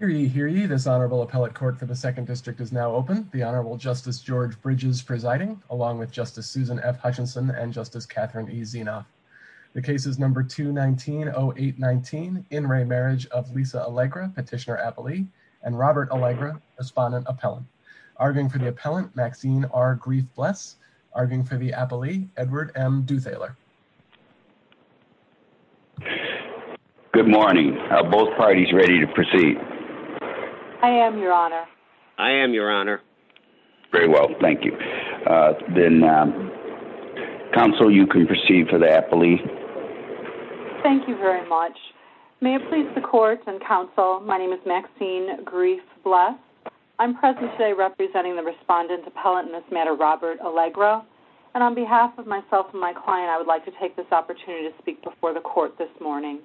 Petitioner Appellee and Robert Allegra, Respondent Appellant. Arguing for the Appellant, Maxine R. Greif-Bless. Arguing for the Appellee, Edward M. Duthaler. Good morning. Are both parties ready to proceed? I am, Your Honor. I am, Your Honor. Very well. Thank you. Then, Counsel, you can proceed for the Appellee. Thank you very much. May it please the Court and Counsel, my name is Maxine Greif-Bless. I'm present today representing the Respondent Appellant in this matter, Robert Allegra. And on behalf of myself and my client, I would like to take this opportunity to speak before the Court this morning.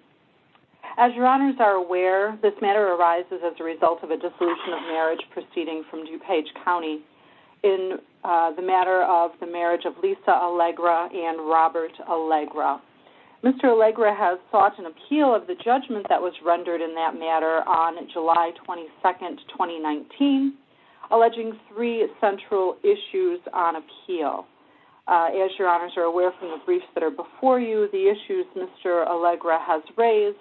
As Your Honors are aware, this matter arises as a result of a dissolution of marriage proceeding from DuPage County in the matter of the marriage of Lisa Allegra and Robert Allegra. Mr. Allegra has sought an appeal of the judgment that was rendered in that matter on July 22, 2019, alleging three central issues on appeal. As Your Honors are aware from the briefs that are before you, the issues Mr. Allegra has raised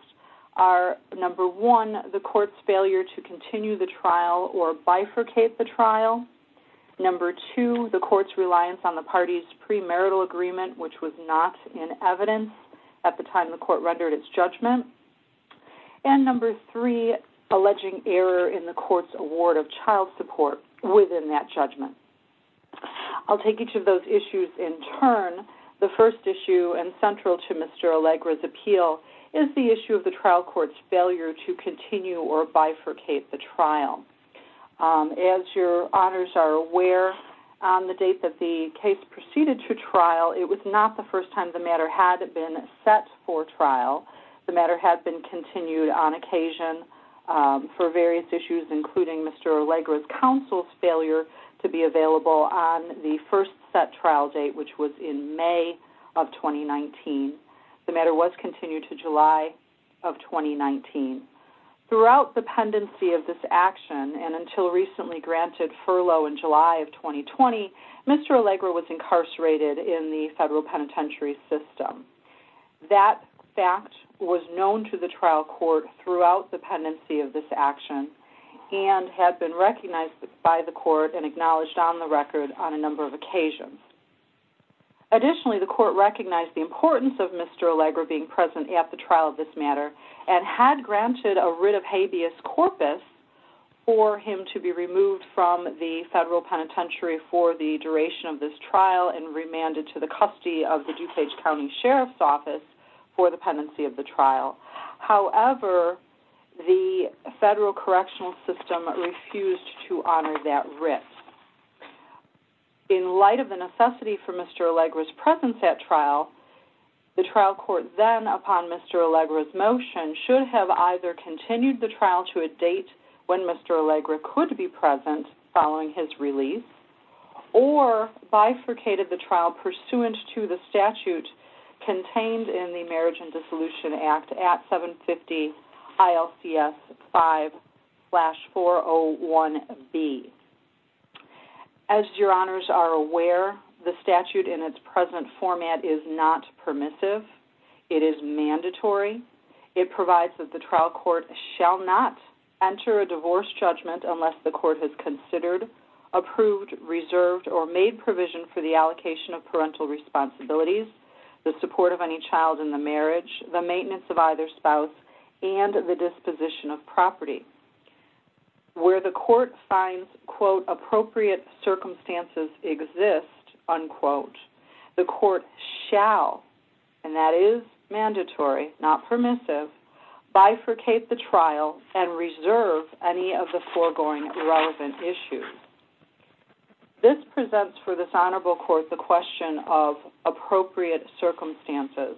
are, number one, the Court's failure to continue the trial or bifurcate the trial. Number two, the Court's reliance on the party's premarital agreement, which was not in evidence at the time the Court rendered its judgment. And number three, alleging error in the Court's award of child support within that judgment. I'll take each of those issues in turn. The first issue, and central to Mr. Allegra's appeal, is the issue of the trial court's failure to continue or bifurcate the trial. As Your Honors are aware, on the date that the case proceeded to trial, it was not the first time the matter had been set for trial. The matter had been continued on occasion for various issues, including Mr. Allegra's counsel's failure to be available on the first set trial date, which was in May of 2019. The matter was continued to July of 2019. Throughout the pendency of this action, and until recently granted furlough in July of 2020, Mr. Allegra was incarcerated in the federal penitentiary system. That fact was known to the trial court throughout the pendency of this action, and had been recognized by the Court and acknowledged on the record on a number of occasions. Additionally, the Court recognized the importance of Mr. Allegra being present at the trial of this matter, and had granted a writ of habeas corpus for him to be removed from the federal penitentiary for the duration of this trial and remanded to the custody of the DuPage County Sheriff's Office for the pendency of the trial. However, the federal correctional system refused to honor that writ. In light of the necessity for Mr. Allegra's presence at trial, the trial court then, upon Mr. Allegra's motion, should have either continued the trial to a date when Mr. Allegra could be present following his release, or bifurcated the trial pursuant to the statute contained in the Marriage and Dissolution Act at 750-ILCS-5-401B. As your honors are aware, the statute in its present format is not permissive. It is mandatory. It provides that the trial court shall not enter a divorce judgment unless the court has considered, approved, reserved, or made provision for the allocation of parental responsibilities, the support of any child in the marriage, the maintenance of either spouse, and the disposition of property. Where the court finds, quote, appropriate circumstances exist, unquote, the court shall, and that is mandatory, not permissive, bifurcate the trial and reserve any of the foregoing relevant issues. This presents for this honorable court the question of appropriate circumstances,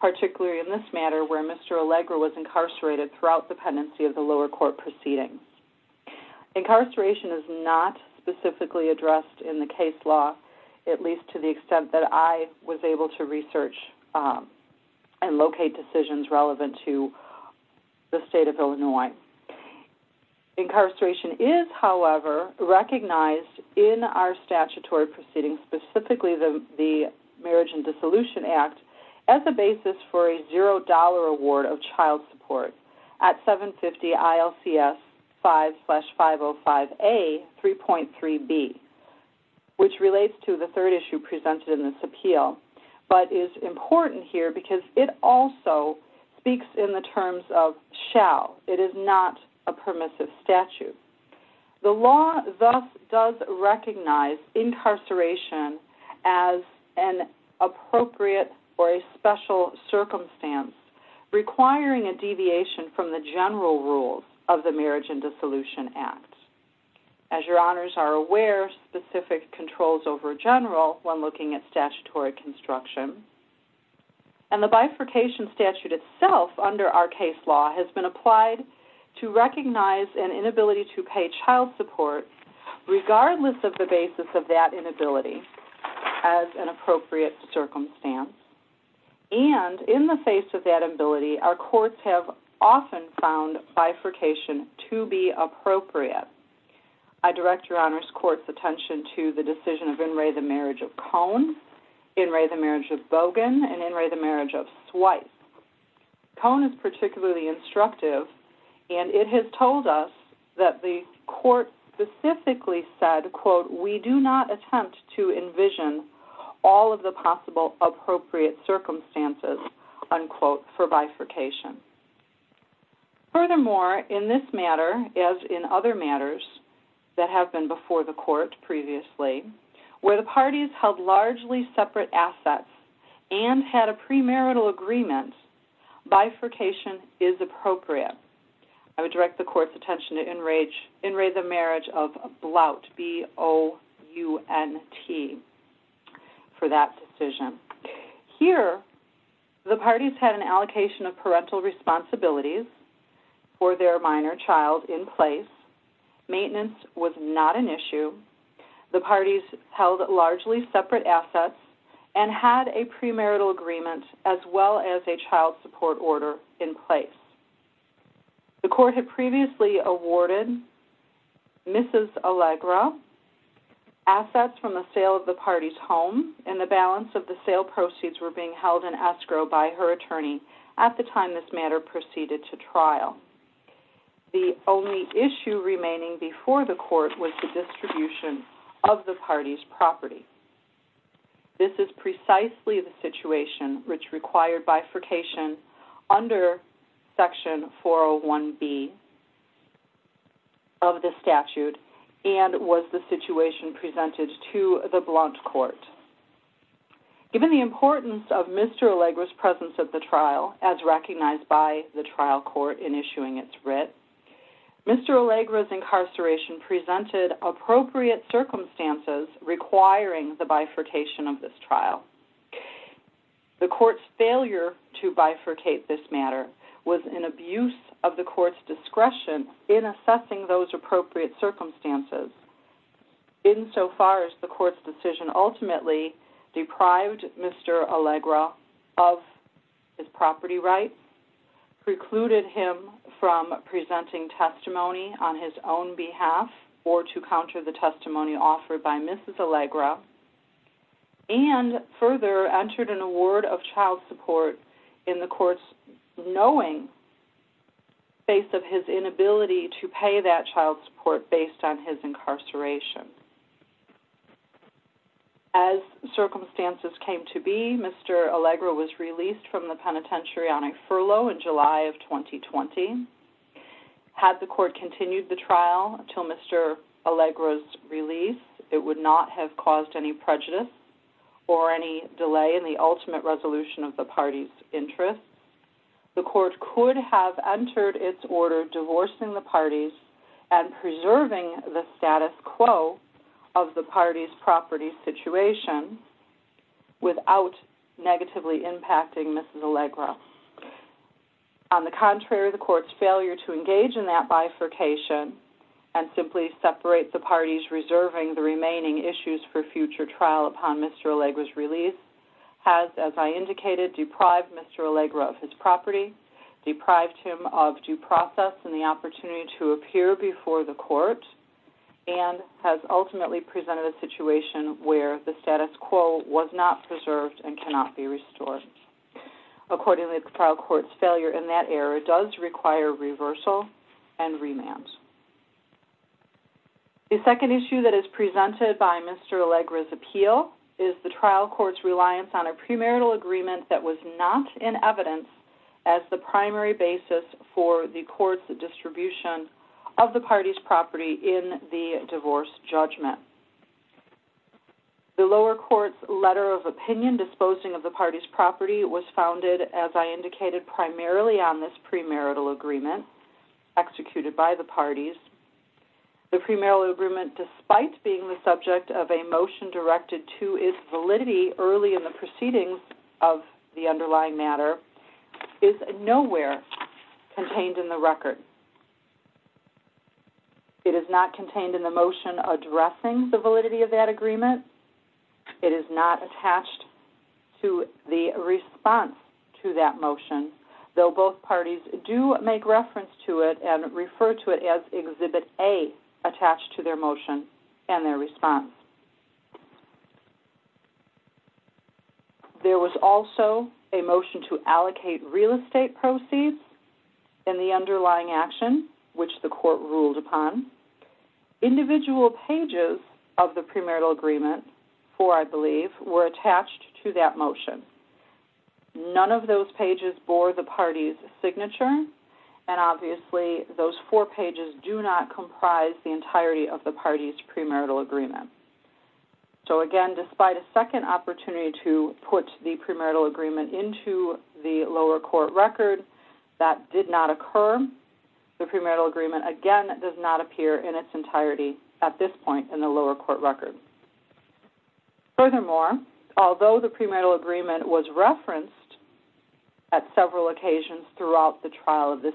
particularly in this matter where Mr. Allegra was incarcerated throughout the pendency of the lower court proceedings. Incarceration is not specifically addressed in the case law, at least to the extent that I was able to research and locate decisions relevant to the state of Illinois. Incarceration is, however, recognized in our statutory proceedings, specifically the Marriage and Dissolution Act, as a basis for a $0 award of child support at 750-ILCS-5-505A-3.3b, which relates to the third issue presented in this appeal, but is important here because it also speaks in the terms of shall. It is not a permissive statute. The law thus does recognize incarceration as an appropriate or a special circumstance, requiring a deviation from the general rules of the Marriage and Dissolution Act. As your honors are aware, specific controls over general when looking at statutory construction. And the bifurcation statute itself, under our case law, has been applied to recognize an inability to pay child support, regardless of the basis of that inability, as an appropriate circumstance. And in the face of that inability, our courts have often found bifurcation to be appropriate. I direct your honors court's attention to the decision of In re the Marriage of Cone, In re the Marriage of Bogan, and In re the Marriage of Swipe. Cone is particularly instructive, and it has told us that the court specifically said, quote, we do not attempt to envision all of the possible appropriate circumstances, unquote, for bifurcation. Furthermore, in this matter, as in other matters that have been before the court previously, where the parties held largely separate assets and had a premarital agreement, bifurcation is appropriate. I would direct the court's attention to In re the Marriage of Blout, B-O-U-N-T, for that decision. Here, the parties had an allocation of parental responsibilities for their minor child in place. Maintenance was not an issue. The parties held largely separate assets and had a premarital agreement as well as a child support order in place. The court had previously awarded Mrs. Allegra assets from the sale of the party's home, and the balance of the sale proceeds were being held in escrow by her attorney at the time this matter proceeded to trial. The only issue remaining before the court was the distribution of the party's property. This is precisely the situation which required bifurcation under Section 401B of the statute and was the situation presented to the Blount Court. Given the importance of Mr. Allegra's presence at the trial, as recognized by the trial court in issuing its writ, Mr. Allegra's incarceration presented appropriate circumstances requiring the bifurcation of this trial. The court's failure to bifurcate this matter was an abuse of the court's discretion in assessing those appropriate circumstances, insofar as the court's decision ultimately deprived Mr. Allegra of his property rights, precluded him from presenting testimony on his own behalf or to counter the testimony offered by Mrs. Allegra, and further entered an award of child support in the court's knowing face of his inability to pay that child support based on his incarceration. As circumstances came to be, Mr. Allegra was released from the penitentiary on a furlough in July of 2020. Had the court continued the trial until Mr. Allegra's release, it would not have caused any prejudice or any delay in the ultimate resolution of the party's interests. The court could have entered its order divorcing the parties and preserving the status quo of the party's property situation without negatively impacting Mrs. Allegra. On the contrary, the court's failure to engage in that bifurcation and simply separate the parties reserving the remaining issues for future trial upon Mr. Allegra's release has, as I indicated, deprived Mr. Allegra of his property, deprived him of due process and the opportunity to appear before the court, and has ultimately presented a situation where the status quo was not preserved and cannot be restored. Accordingly, the trial court's failure in that area does require reversal and remand. The second issue that is presented by Mr. Allegra's appeal is the trial court's reliance on a premarital agreement that was not in evidence as the primary basis for the court's distribution of the party's property in the divorce judgment. The lower court's letter of opinion disposing of the party's property was founded, as I indicated, primarily on this premarital agreement executed by the parties. The premarital agreement, despite being the subject of a motion directed to its validity early in the proceedings of the underlying matter, is nowhere contained in the record. It is not contained in the motion addressing the validity of that agreement. It is not attached to the response to that motion, though both parties do make reference to it and refer to it as Exhibit A attached to their motion and their response. There was also a motion to allocate real estate proceeds in the underlying action, which the court ruled upon. Individual pages of the premarital agreement, four, I believe, were attached to that motion. None of those pages bore the party's signature, and obviously those four pages do not comprise the entirety of the party's premarital agreement. So again, despite a second opportunity to put the premarital agreement into the lower court record, that did not occur. The premarital agreement, again, does not appear in its entirety at this point in the lower court record. Furthermore, although the premarital agreement was referenced at several occasions throughout the trial of this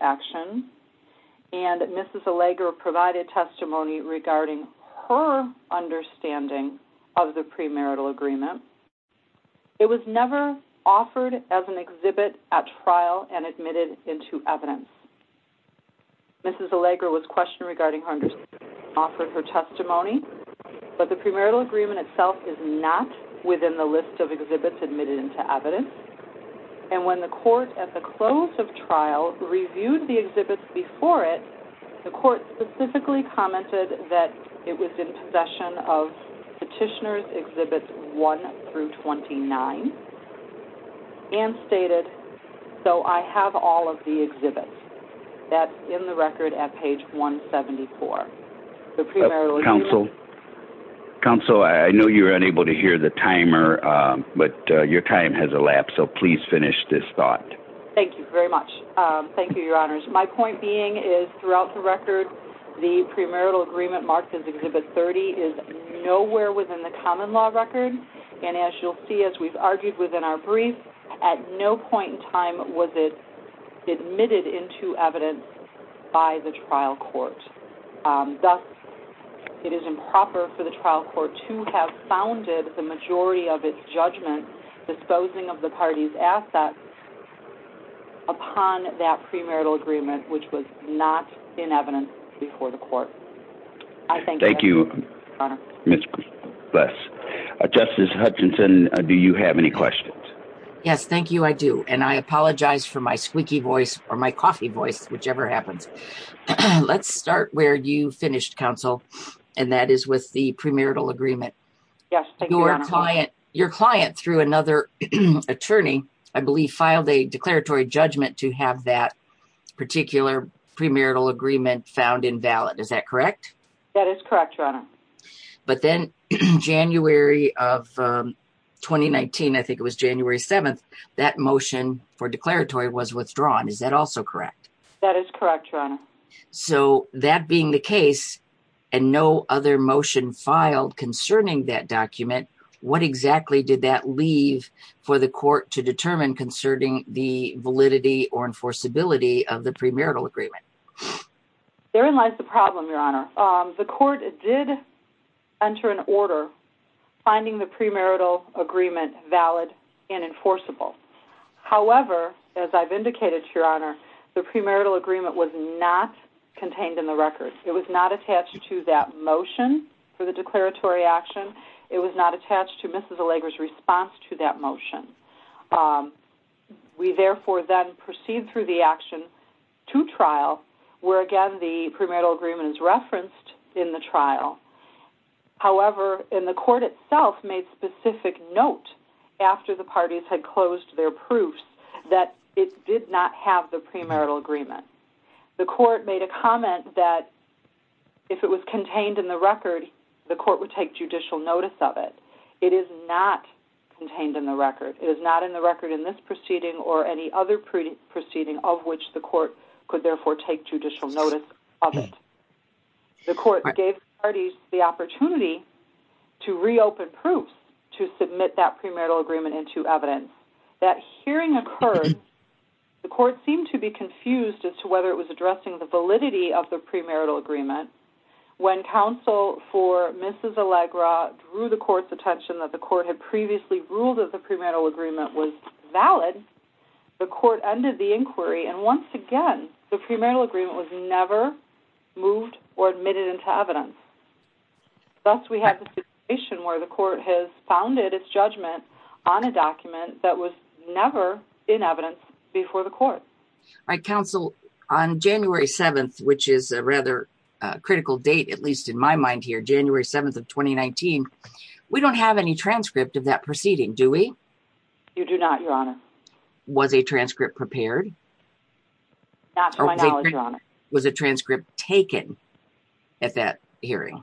action, and Mrs. Allegra provided testimony regarding her understanding of the premarital agreement, it was never offered as an exhibit at trial and admitted into evidence. Mrs. Allegra was questioned regarding her understanding and offered her testimony, but the premarital agreement itself is not within the list of exhibits admitted into evidence, and when the court, at the close of trial, reviewed the exhibits before it, the court specifically commented that it was in possession of Petitioner's Exhibits 1 through 29, and stated, so I have all of the exhibits. That's in the record at page 174. Counsel? Counsel, I know you were unable to hear the timer, but your time has elapsed, so please finish this thought. Thank you very much. Thank you, Your Honors. My point being is, throughout the record, the premarital agreement marked as Exhibit 30 is nowhere within the common law record, and as you'll see, as we've argued within our brief, at no point in time was it admitted into evidence by the trial court. Thus, it is improper for the trial court to have founded the majority of its judgment on disposing of the parties' assets upon that premarital agreement, which was not in evidence before the court. Thank you, Ms. Buss. Justice Hutchinson, do you have any questions? Yes, thank you, I do, and I apologize for my squeaky voice, or my coughy voice, whichever happens. Let's start where you finished, Counsel, and that is with the premarital agreement. Yes, thank you, Your Honor. Your client, through another attorney, I believe, filed a declaratory judgment to have that particular premarital agreement found invalid. Is that correct? That is correct, Your Honor. But then, January of 2019, I think it was January 7th, that motion for declaratory was withdrawn. That is correct, Your Honor. So, that being the case, and no other motion filed concerning that document, what exactly did that leave for the court to determine concerning the validity or enforceability of the premarital agreement? Therein lies the problem, Your Honor. The court did enter an order finding the premarital agreement valid and enforceable. However, as I've indicated, Your Honor, the premarital agreement was not contained in the records. It was not attached to that motion for the declaratory action. It was not attached to Mrs. Allegra's response to that motion. We, therefore, then proceed through the action to trial, where, again, the premarital agreement is referenced in the trial. However, and the court itself made specific note after the parties had closed their proofs that it did not have the premarital agreement. The court made a comment that if it was contained in the record, the court would take judicial notice of it. It is not contained in the record. It is not in the record in this proceeding or any other proceeding of which the court could, therefore, take judicial notice of it. The court gave parties the opportunity to reopen proofs to submit that premarital agreement into evidence. That hearing occurred. The court seemed to be confused as to whether it was addressing the validity of the premarital agreement. When counsel for Mrs. Allegra drew the court's attention that the court had previously ruled that the premarital agreement was valid, the court ended the inquiry. Once again, the premarital agreement was never moved or admitted into evidence. Thus, we have a situation where the court has founded its judgment on a document that was never in evidence before the court. Counsel, on January 7th, which is a rather critical date, at least in my mind here, January 7th of 2019, we don't have any transcript of that proceeding, do we? You do not, Your Honor. Was a transcript prepared? Not to my knowledge, Your Honor. Was a transcript taken at that hearing?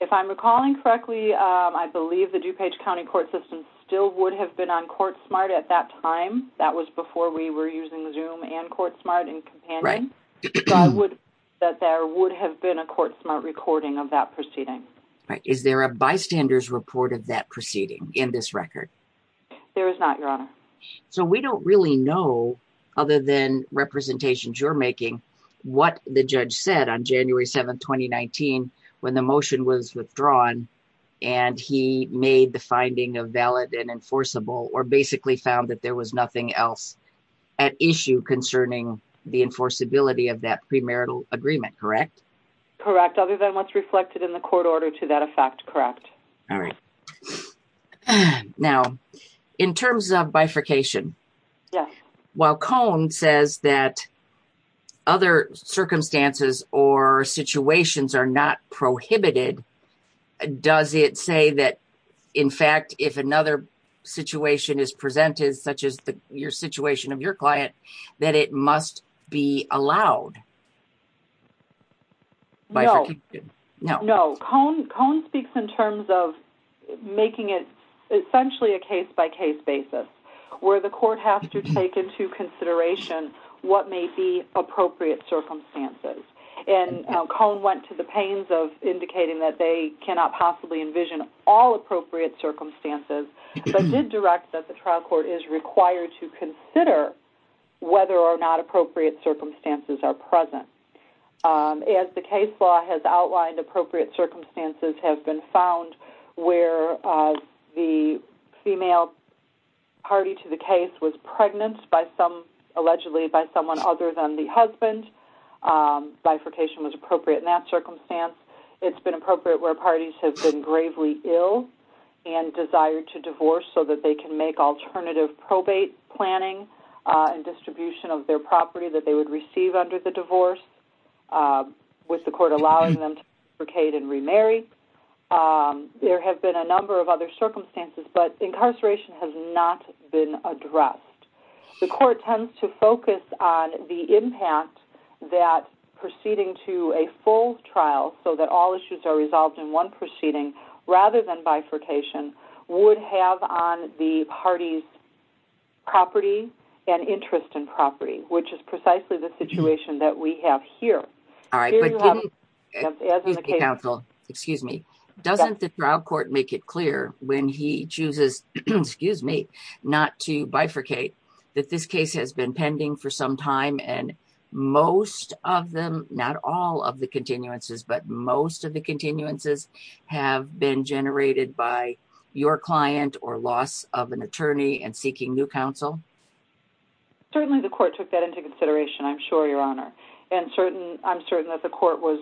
If I'm recalling correctly, I believe the DuPage County Court System still would have been on Courtsmart at that time. That was before we were using Zoom and Courtsmart and Companion. So there would have been a Courtsmart recording of that proceeding. Is there a bystander's report of that proceeding in this record? There is not, Your Honor. So we don't really know, other than representations you're making, what the judge said on January 7th, 2019, when the motion was withdrawn and he made the finding of valid and enforceable or basically found that there was nothing else at issue concerning the enforceability of that premarital agreement, correct? Correct. Other than what's reflected in the court order to that effect, correct. All right. Now, in terms of bifurcation, while Cone says that other circumstances or situations are not prohibited, does it say that, in fact, if another situation is presented, such as the situation of your client, that it must be allowed? No. No. Cone speaks in terms of making it essentially a case-by-case basis, where the court has to take into consideration what may be appropriate circumstances. And Cone went to the pains of indicating that they cannot possibly envision all appropriate circumstances, but did direct that the trial court is required to consider whether or not appropriate circumstances are present. As the case law has outlined, appropriate circumstances have been found where the female party to the case was pregnant allegedly by someone other than the husband. Bifurcation was appropriate in that circumstance. It's been appropriate where parties have been gravely ill and desire to divorce so that they can make alternative probate planning and distribution of their property that they would receive under the divorce, with the court allowing them to bifurcate and remarry. There have been a number of other circumstances, but incarceration has not been addressed. The court tends to focus on the impact that proceeding to a full trial so that all issues are resolved in one proceeding, rather than bifurcation, would have on the party's property and interest in property, which is precisely the situation that we have here. All right. Excuse me. Doesn't the trial court make it clear when he chooses not to bifurcate that this case has been pending for some time and most of them, not all of the continuances, but most of the continuances have been generated by your client or loss of an attorney and seeking new counsel? Certainly the court took that into consideration, I'm sure, Your Honor, and I'm certain that the court was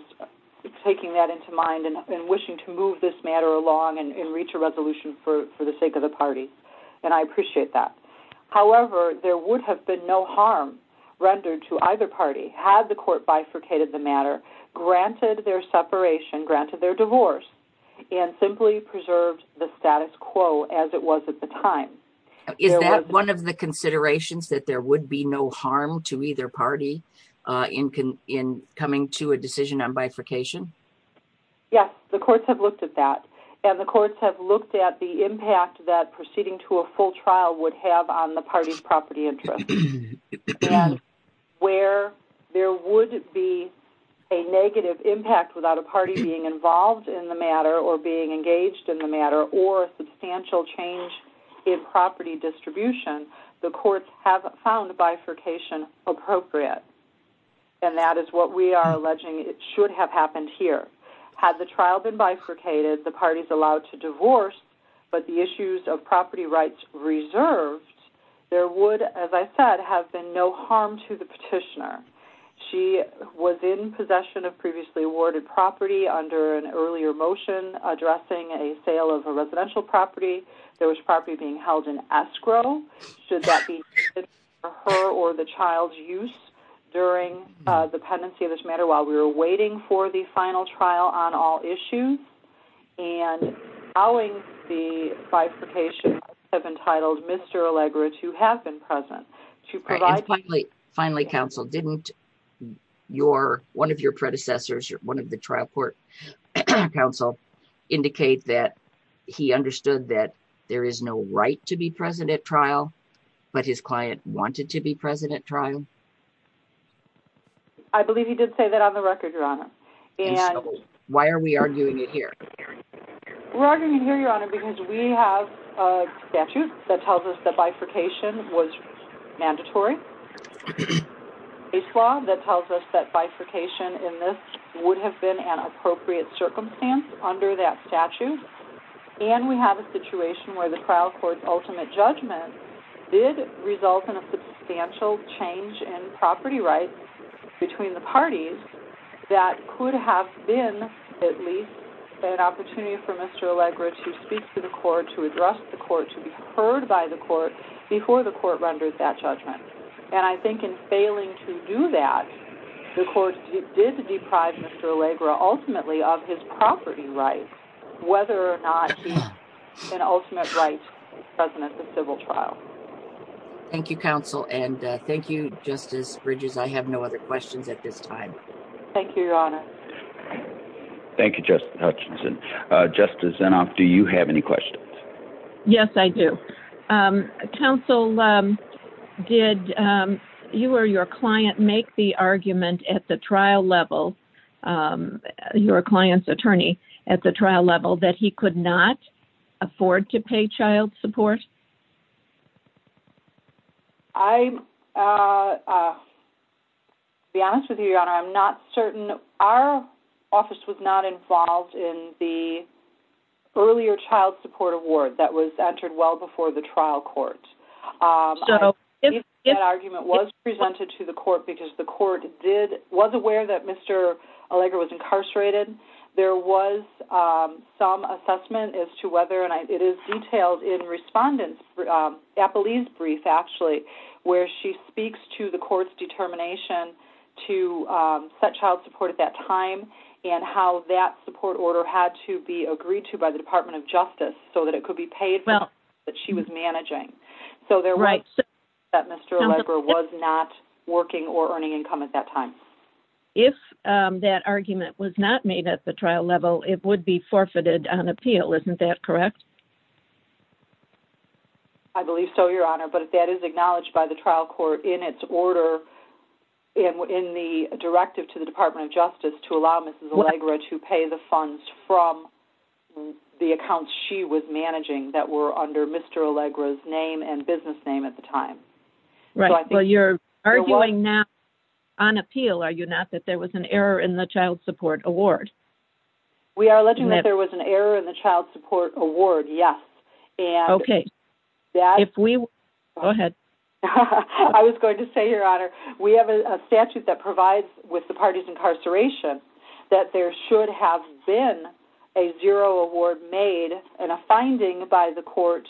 taking that into mind and wishing to move this matter along and reach a resolution for the sake of the party, and I appreciate that. However, there would have been no harm rendered to either party had the court bifurcated the matter, granted their separation, granted their divorce, and simply preserved the status quo as it was at the time. Is that one of the considerations, that there would be no harm to either party in coming to a decision on bifurcation? Yes, the courts have looked at that, and the courts have looked at the impact that proceeding to a full trial would have on the party's property interest, and where there would be a negative impact without a party being involved in the matter or being engaged in the matter or a substantial change in property distribution, the courts have found bifurcation appropriate, and that is what we are alleging should have happened here. Had the trial been bifurcated, the parties allowed to divorce, but the issues of property rights reserved, there would, as I said, have been no harm to the petitioner. She was in possession of previously awarded property under an earlier motion addressing a sale of a residential property that was probably being held in escrow. Should that be due to her or the child's use during the pendency of this matter while we were waiting for the final trial on all issues? And allowing the bifurcation of entitled Mr. Allegra to have been present to provide... And finally, counsel, didn't one of your predecessors, one of the trial court counsel, indicate that he understood that there is no right to be present at trial, but his client wanted to be present at trial? I believe he did say that on the record, Your Honor. And... Why are we arguing it here? We're arguing it here, Your Honor, because we have a statute that tells us that bifurcation was mandatory. A slaw that tells us that bifurcation in this would have been an appropriate circumstance under that statute. And we have a situation where the trial court's ultimate judgment did result in a substantial change in property rights between the parties that could have been at least an opportunity for Mr. Allegra to speak to the court, to address the court, to be heard by the court before the court renders that judgment. And I think in failing to do that, the court did deprive Mr. Allegra ultimately of his property rights, whether or not he had an ultimate right to be present at the civil trial. Thank you, counsel, and thank you, Justice Bridges. I have no other questions at this time. Thank you, Your Honor. Thank you, Justice Hutchinson. Justice Zinov, do you have any questions? Yes, I do. Counsel, did you or your client make the argument at the trial level, your client's attorney at the trial level, that he could not afford to pay child support? I'll be honest with you, Your Honor, I'm not certain. Our office was not involved in the earlier child support award that was entered well before the trial court. That argument was presented to the court because the court was aware that Mr. Allegra was incarcerated. There was some assessment as to whether, and it is detailed in the respondent's appellee's brief, actually, where she speaks to the court's determination to set child support at that time and how that support order had to be agreed to by the Department of Justice that she was managing. So there was no assessment that Mr. Allegra was not working or earning income at that time. If that argument was not made at the trial level, it would be forfeited on appeal. Isn't that correct? I believe so, Your Honor, but that is acknowledged by the trial court in its order in the directive to the Department of Justice to allow Mrs. Allegra to pay the funds from the accounts she was managing that were under Mr. Allegra's name and business name at the time. Well, you're arguing now on appeal, are you not, that there was an error in the child support award? We are alleging that there was an error in the child support award, yes. Okay. Go ahead. I was going to say, Your Honor, we have a statute that provides with the parties' incarceration that there should have been a zero award made and a finding by the court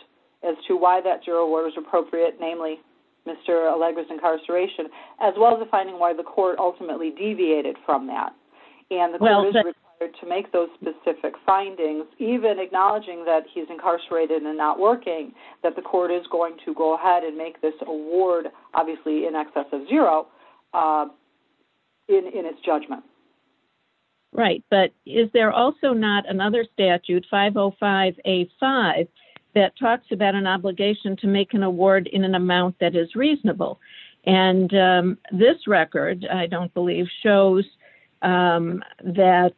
as to why that zero award was appropriate, namely Mr. Allegra's incarceration, as well as the finding why the court ultimately deviated from that. And the court is required to make those specific findings, even acknowledging that he's incarcerated and not working, that the court is going to go ahead and make this award, obviously in excess of zero, in its judgment. Right, but is there also not another statute, 505A5, that talks about an obligation to make an award in an amount that is reasonable? And this record, I don't believe, shows that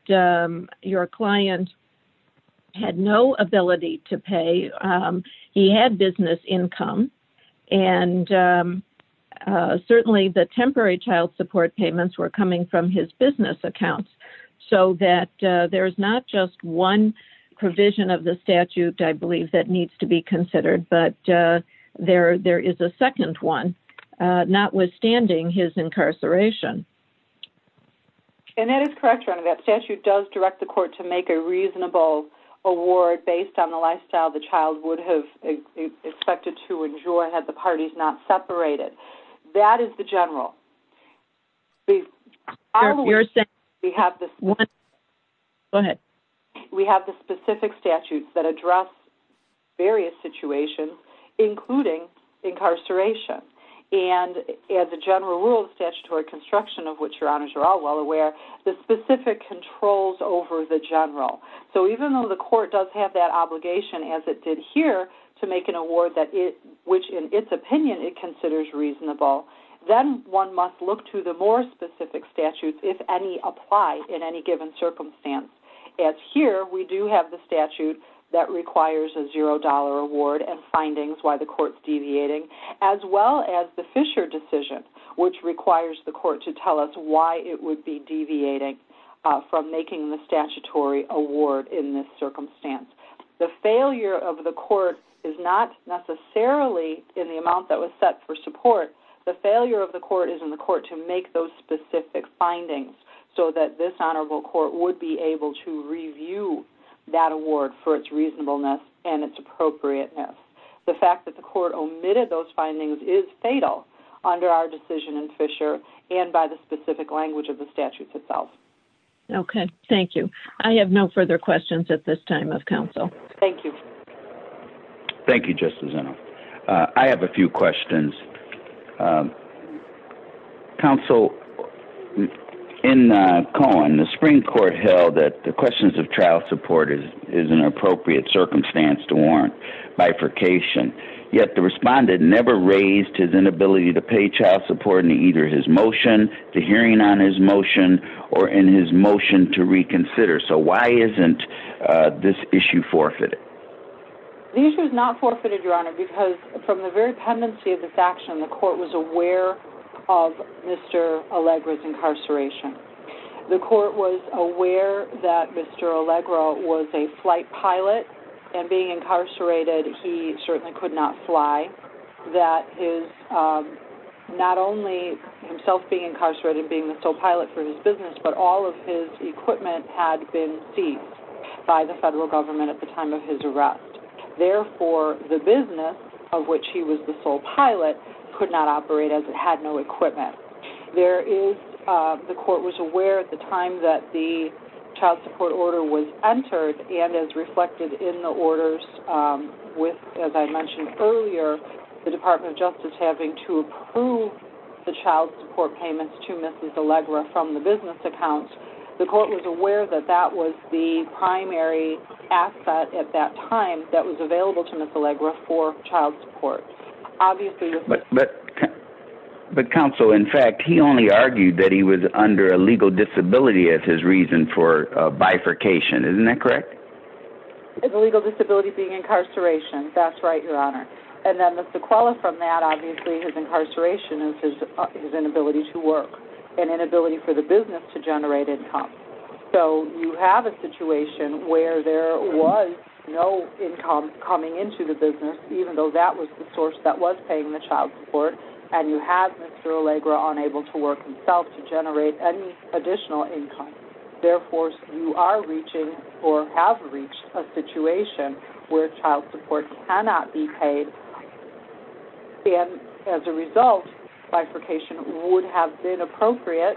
your client had no ability to pay. He had business income, and certainly the temporary child support payments were coming from his business accounts, so that there's not just one provision of the statute, I believe, that needs to be considered, but there is a second one, notwithstanding his incarceration. And that is correct, Ronna. That statute does direct the court to make a reasonable award based on the lifestyle the child would have expected to enjoy had the parties not separated. That is the general. Go ahead. We have the specific statutes that address various situations, including incarceration. And as a general rule of statutory construction, of which your honors are all well aware, the specific controls over the general. So even though the court does have that obligation, as it did here, to make an award which, in its opinion, it considers reasonable, then one must look to the more specific statutes, if any apply in any given circumstance. As here, we do have the statute that requires a $0 award and findings why the court's deviating, as well as the Fisher decision, which requires the court to tell us why it would be deviating from making the statutory award in this circumstance. The failure of the court is not necessarily, in the amount that was set for support, but the failure of the court is in the court to make those specific findings so that this honorable court would be able to review that award for its reasonableness and its appropriateness. The fact that the court omitted those findings is fatal under our decision in Fisher and by the specific language of the statutes itself. Okay. Thank you. I have no further questions at this time of counsel. Thank you. Thank you, Justice Eno. I have a few questions. Counsel, in Cohen, the Supreme Court held that the questions of trial support is an appropriate circumstance to warrant bifurcation, yet the respondent never raised his inability to pay trial support in either his motion, the hearing on his motion, or in his motion to reconsider. So why isn't this issue forfeited? The issue is not forfeited, Your Honor, because from the very tendency of this action, the court was aware of Mr. Allegra's incarceration. The court was aware that Mr. Allegra was a flight pilot and being incarcerated, he certainly could not fly. That is, not only himself being incarcerated and being the sole pilot for his business, but all of his equipment had been seized by the federal government at the time of his arrest. Therefore, the business of which he was the sole pilot could not operate as it had no equipment. There is, the court was aware at the time that the child support order was entered and is reflected in the orders with, as I mentioned earlier, the Department of Justice having to approve the child support payments to Mrs. Allegra from the business account. The court was aware that that was the primary asset at that time that was available to Mrs. Allegra for child support. But, Counsel, in fact, he only argued that he was under a legal disability as his reason for bifurcation. Isn't that correct? A legal disability being incarceration. That's right, Your Honor. Mr. Kuala, from that, obviously his incarceration is his inability to work and inability for the business to operate. So, you have a situation where there was no income coming into the business even though that was the source that was paying the child support and you have Mr. Allegra unable to work himself to generate any additional income. Therefore, you are reaching or have reached a situation where child support cannot be paid and, as a result, bifurcation would have been appropriate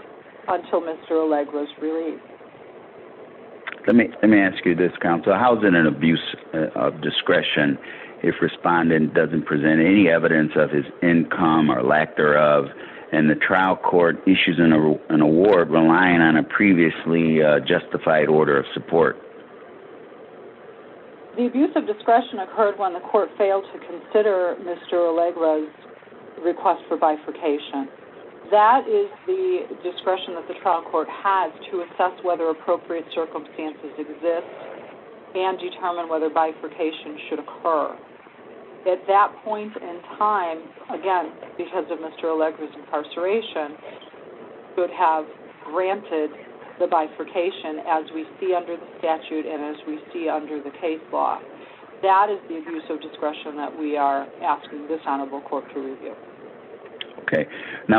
Let me ask you this, Counsel. How is it an abuse of discretion if respondent doesn't present any evidence of his income or lack thereof and the trial court issues an award relying on a previously justified order of support? The abuse of discretion occurred when the court failed to consider Mr. Allegra's request for bifurcation. That is the discretion that the trial court has to assess whether appropriate circumstances exist and determine whether bifurcation should occur. At that point in time, again, because of Mr. Allegra's incarceration, it would have granted the bifurcation as we see under the statute and as we see under the case law. That is the abuse of discretion that we are asking this honorable court to review.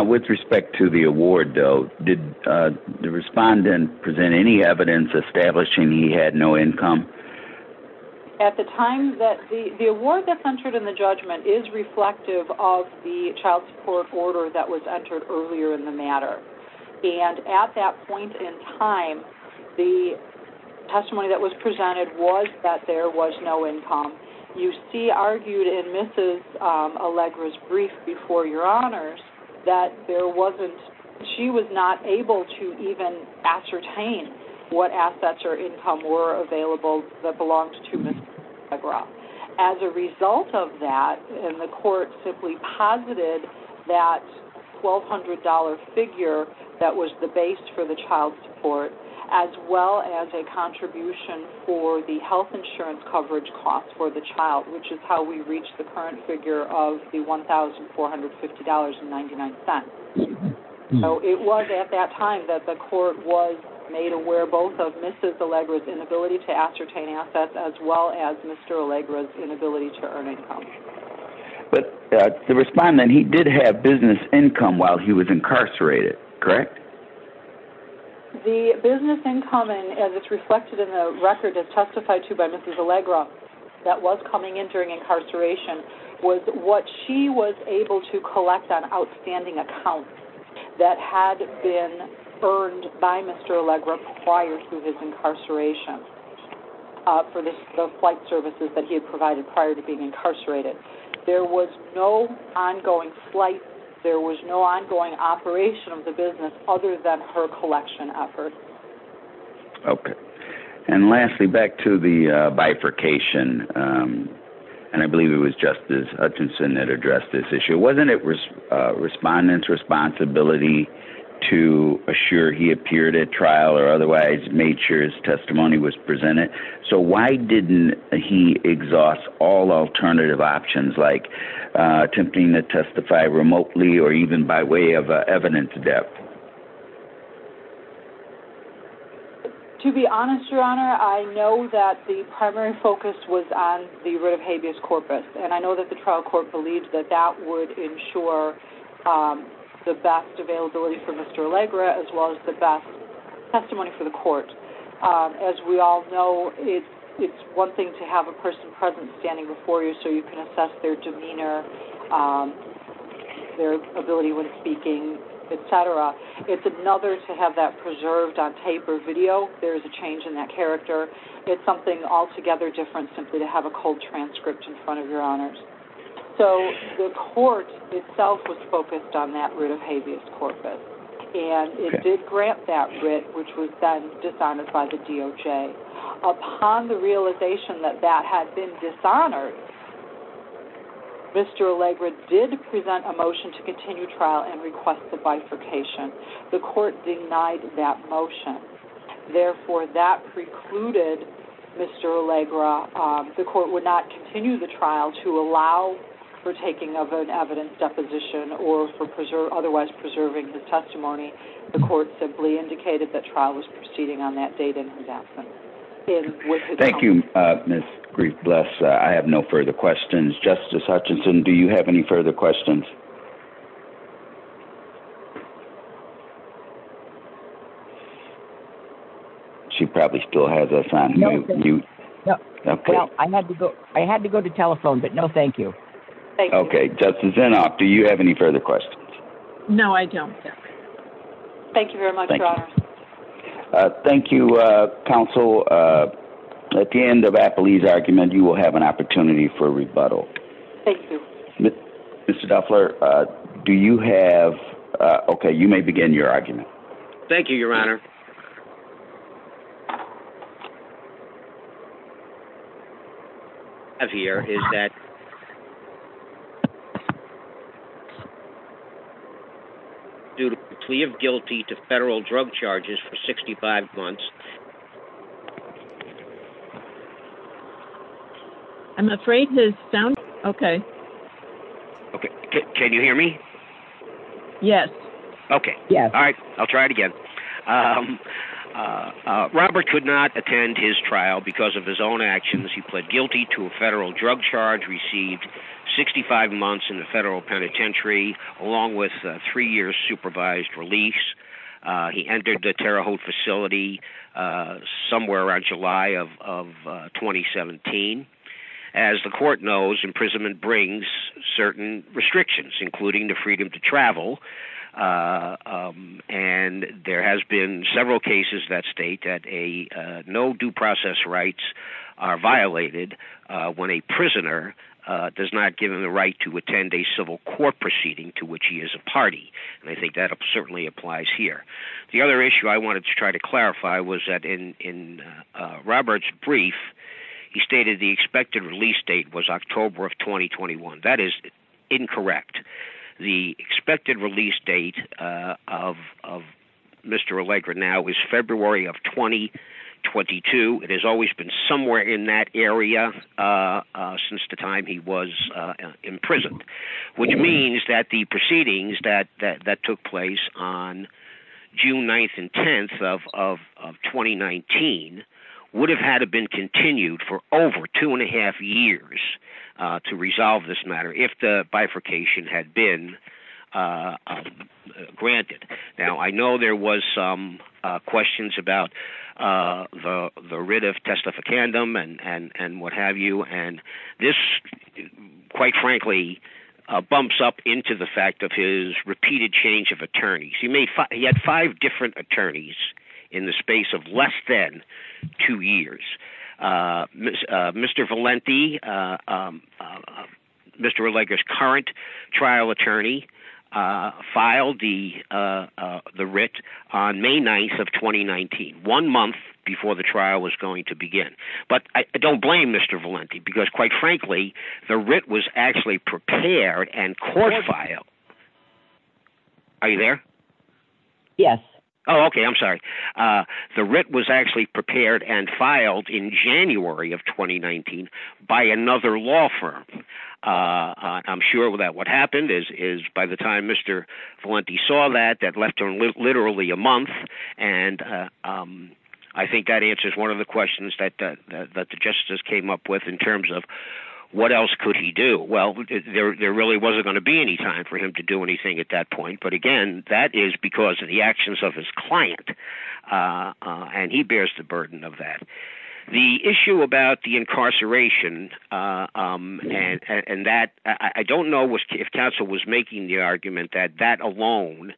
With respect to the award, did the respondent present any evidence establishing he had no income? At the time, the award that is entered in the judgment is reflective of the child support order that was entered earlier in the matter. At that point in time, the testimony that was presented was that there was no income. You see argued in Mrs. Allegra's brief before your honors that there wasn't any evidence to ascertain what assets or income were available that belonged to Mrs. Allegra. As a result of that, the court simply posited that $1,200 figure that was the base for the child support as well as a contribution for the health insurance coverage cost for the child, which is how we reached the current figure of $1,450.99. The court made aware both of Mrs. Allegra's inability to ascertain assets as well as Mr. Allegra's inability to earn income. But the respondent, he did have business income while he was incarcerated, correct? The business income, and it's reflected in the record as testified to by Mrs. Allegra, that was coming in during incarceration, that Mr. Allegra acquired through his incarceration for the flight services that he had provided prior to being incarcerated. There was no ongoing operation of the business other than her collection efforts. And lastly, back to the bifurcation, and I believe it was Justice Hutchinson that addressed this issue. Wasn't it the respondent's responsibility to make sure that Mr. Allegra's testimony was presented? So why didn't he exhaust all alternative options like attempting to testify remotely or even by way of evidence of death? To be honest, Your Honor, I know that the primary focus was on the writ of habeas corpus, and I know that the trial court believed that that was the case. But the testimony for the court, as we all know, it's one thing to have a person present standing before you so you can assess their demeanor, their ability when speaking, et cetera. It's another to have that preserved on tape or video if there's a change in that character. It's something altogether different simply to have a cold transcript in front of Your Honors. So the court itself was focused on that writ of habeas corpus, and it did grant that writ which was then dishonored by the DOJ. Upon the realization that that had been dishonored, Mr. Allegra did present a motion to continue trial and request the bifurcation. The court denied that motion. Therefore, that precluded Mr. Allegra. It would not continue the trial to allow for taking over an evidence deposition or for otherwise preserving his testimony. The court simply indicated that trial was proceeding on that date in his absence. Thank you, Ms. Grief-Bluff. I have no further questions. Justice Hutchinson, do you have any further questions? She probably still has us on. I had to go to telephone, but no, thank you. Okay. Justice Inhofe, do you have any further questions? No, I don't. Thank you very much. Thank you, counsel. At the end of Appleby's argument, you will have an opportunity for rebuttal. Thank you. Mr. Duffler, do you have Okay, you may begin your argument. Thank you, Your Honor. What I have here is that due to plea of guilty to federal drug charges for 65 months I'm afraid the sound Okay. Okay. Can you hear me? Yes. Okay. Yeah. All right. I'll try it again. Robert could not attend his trial because of his own actions. He pled guilty to a federal drug charge, received 65 months in the federal penitentiary, along with three years supervised release. He entered the Terre Haute facility somewhere around July of 2017. As the court knows, imprisonment brings certain restrictions, including the freedom to travel. And there has been several cases that state that a no due process rights are violated when a prisoner does not give him the right to attend a civil court proceeding to which he is a party. And I think that certainly applies here. The other issue I wanted to try to clarify was that in Robert's brief, he stated the expected release date was October of 2021. That is incorrect. The expected release date of Mr. Allegra now is February of 2022. It has always been somewhere in that area since the time he was imprisoned, which means that the proceedings that that took place on June 9th and 10th of 2019 would have had to been continued for over two and a half years to resolve this matter if the bifurcation had been granted. Now, I know there was some questions about the writ of testificandum and what have you. And this, quite frankly, bumps up into the fact of his repeated change of attorneys. He had five different attorneys in the space of less than two years. Mr. Valenti, Mr. Allegra's current trial attorney, filed the writ on May 9th of 2019, one month before the trial was going to begin. But I don't blame Mr. Valenti because, quite frankly, the writ was actually prepared and court-filed. Are you there? Yes. Oh, OK. I'm sorry. The writ was actually prepared and filed in January of 2019 by another law firm. I'm sure that what happened is by the time Mr. Valenti saw that, that left him literally a month and I think that answers one of the questions that Justice came up with in terms of what else could he do? Well, there really wasn't going to be any time for him to do anything at that point. But, again, that is because of the actions of his client. And he bears the burden of that. The issue about the incarceration and that, I don't know if counsel was making the argument that that alone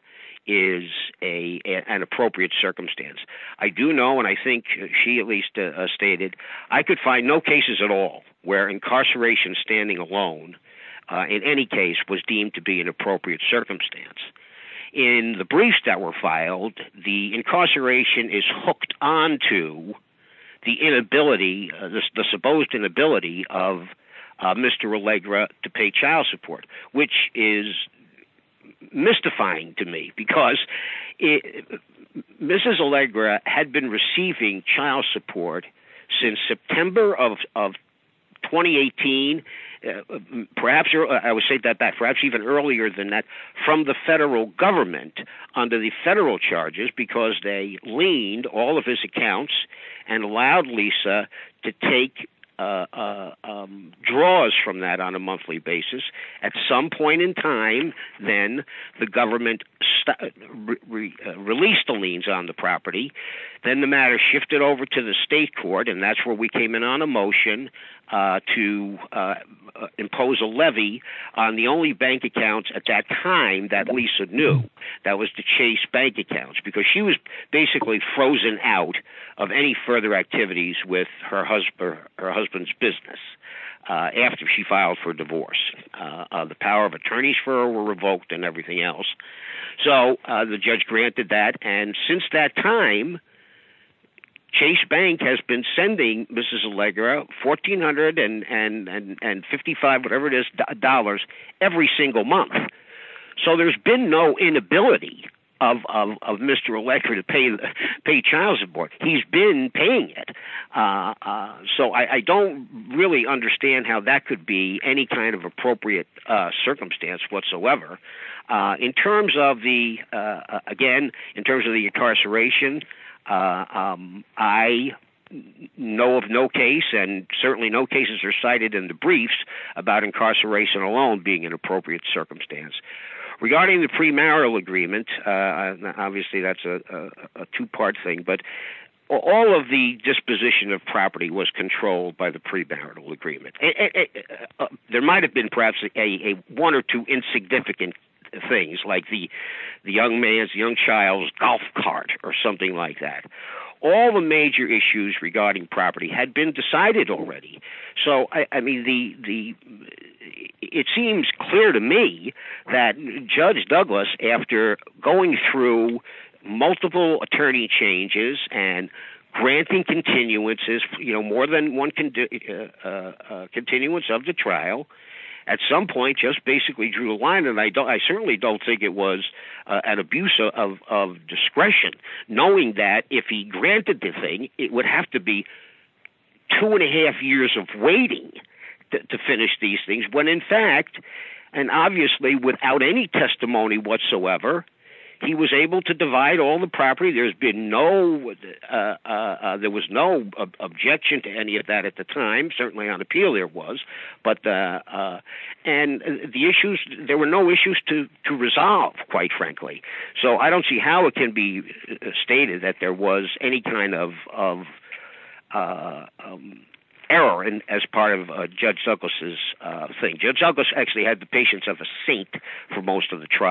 is an appropriate circumstance. I do know, and I think she at least stated, I could find no cases at all where incarceration standing alone, in any case, was deemed to be an appropriate circumstance. In the briefs that were filed, the incarceration is hooked onto the inability, the supposed inability, of Mr. Allegra to pay child support, which is mystifying to me because Mrs. Allegra had been receiving child support since September of 2018, perhaps, I would say that perhaps even earlier than that, from the federal government under the federal charges because they leaned all of his accounts and allowed Lisa to take draws from that on a monthly basis. At some point in time, then, the government released the liens on the property. Then the matter shifted over to the state court and that's where we came in on a motion to impose a levy on the only bank accounts at that time that Lisa knew that was to chase bank accounts because she was basically frozen out of any further activities with her husband's business after she filed for divorce. The power of attorneys for her were revoked and the judge granted that. Since that time, Chase Bank has been sending Mrs. Allegra $1,455 every single month. There has been no inability of Mr. Allegra to pay child support. He has been paying it. I don't really understand how that could be any kind of appropriate circumstance whatsoever. Again, in terms of the incarceration, I know of no case and certainly no cases are cited in the briefs about incarceration alone being an appropriate circumstance. Regarding the premarital agreement, obviously that's a two-part thing, but all of the disposition of property was controlled by the premarital agreement. There might have been perhaps a one or two insignificant things like the young man's, young child's golf cart or something like that. All the major issues regarding property had been decided already. It seems clear to me that Judge Douglas, after going through multiple attorney changes and granting continuances, more than one continuance of the trial, at some point just basically drew a line. I certainly don't think it was an abuse of discretion knowing that if he granted the thing, it would have to be two and a half years of waiting to finish these things when in fact, and obviously without any testimony whatsoever, he was able to divide all the property. There was no objection to any of that at the time. Certainly on appeal there was. There were no issues to resolve quite frankly. I don't see how it can be stated that there was any kind of error as part of Judge Douglas's thing. Judge Douglas actually had the patience of a saint for most of the case. The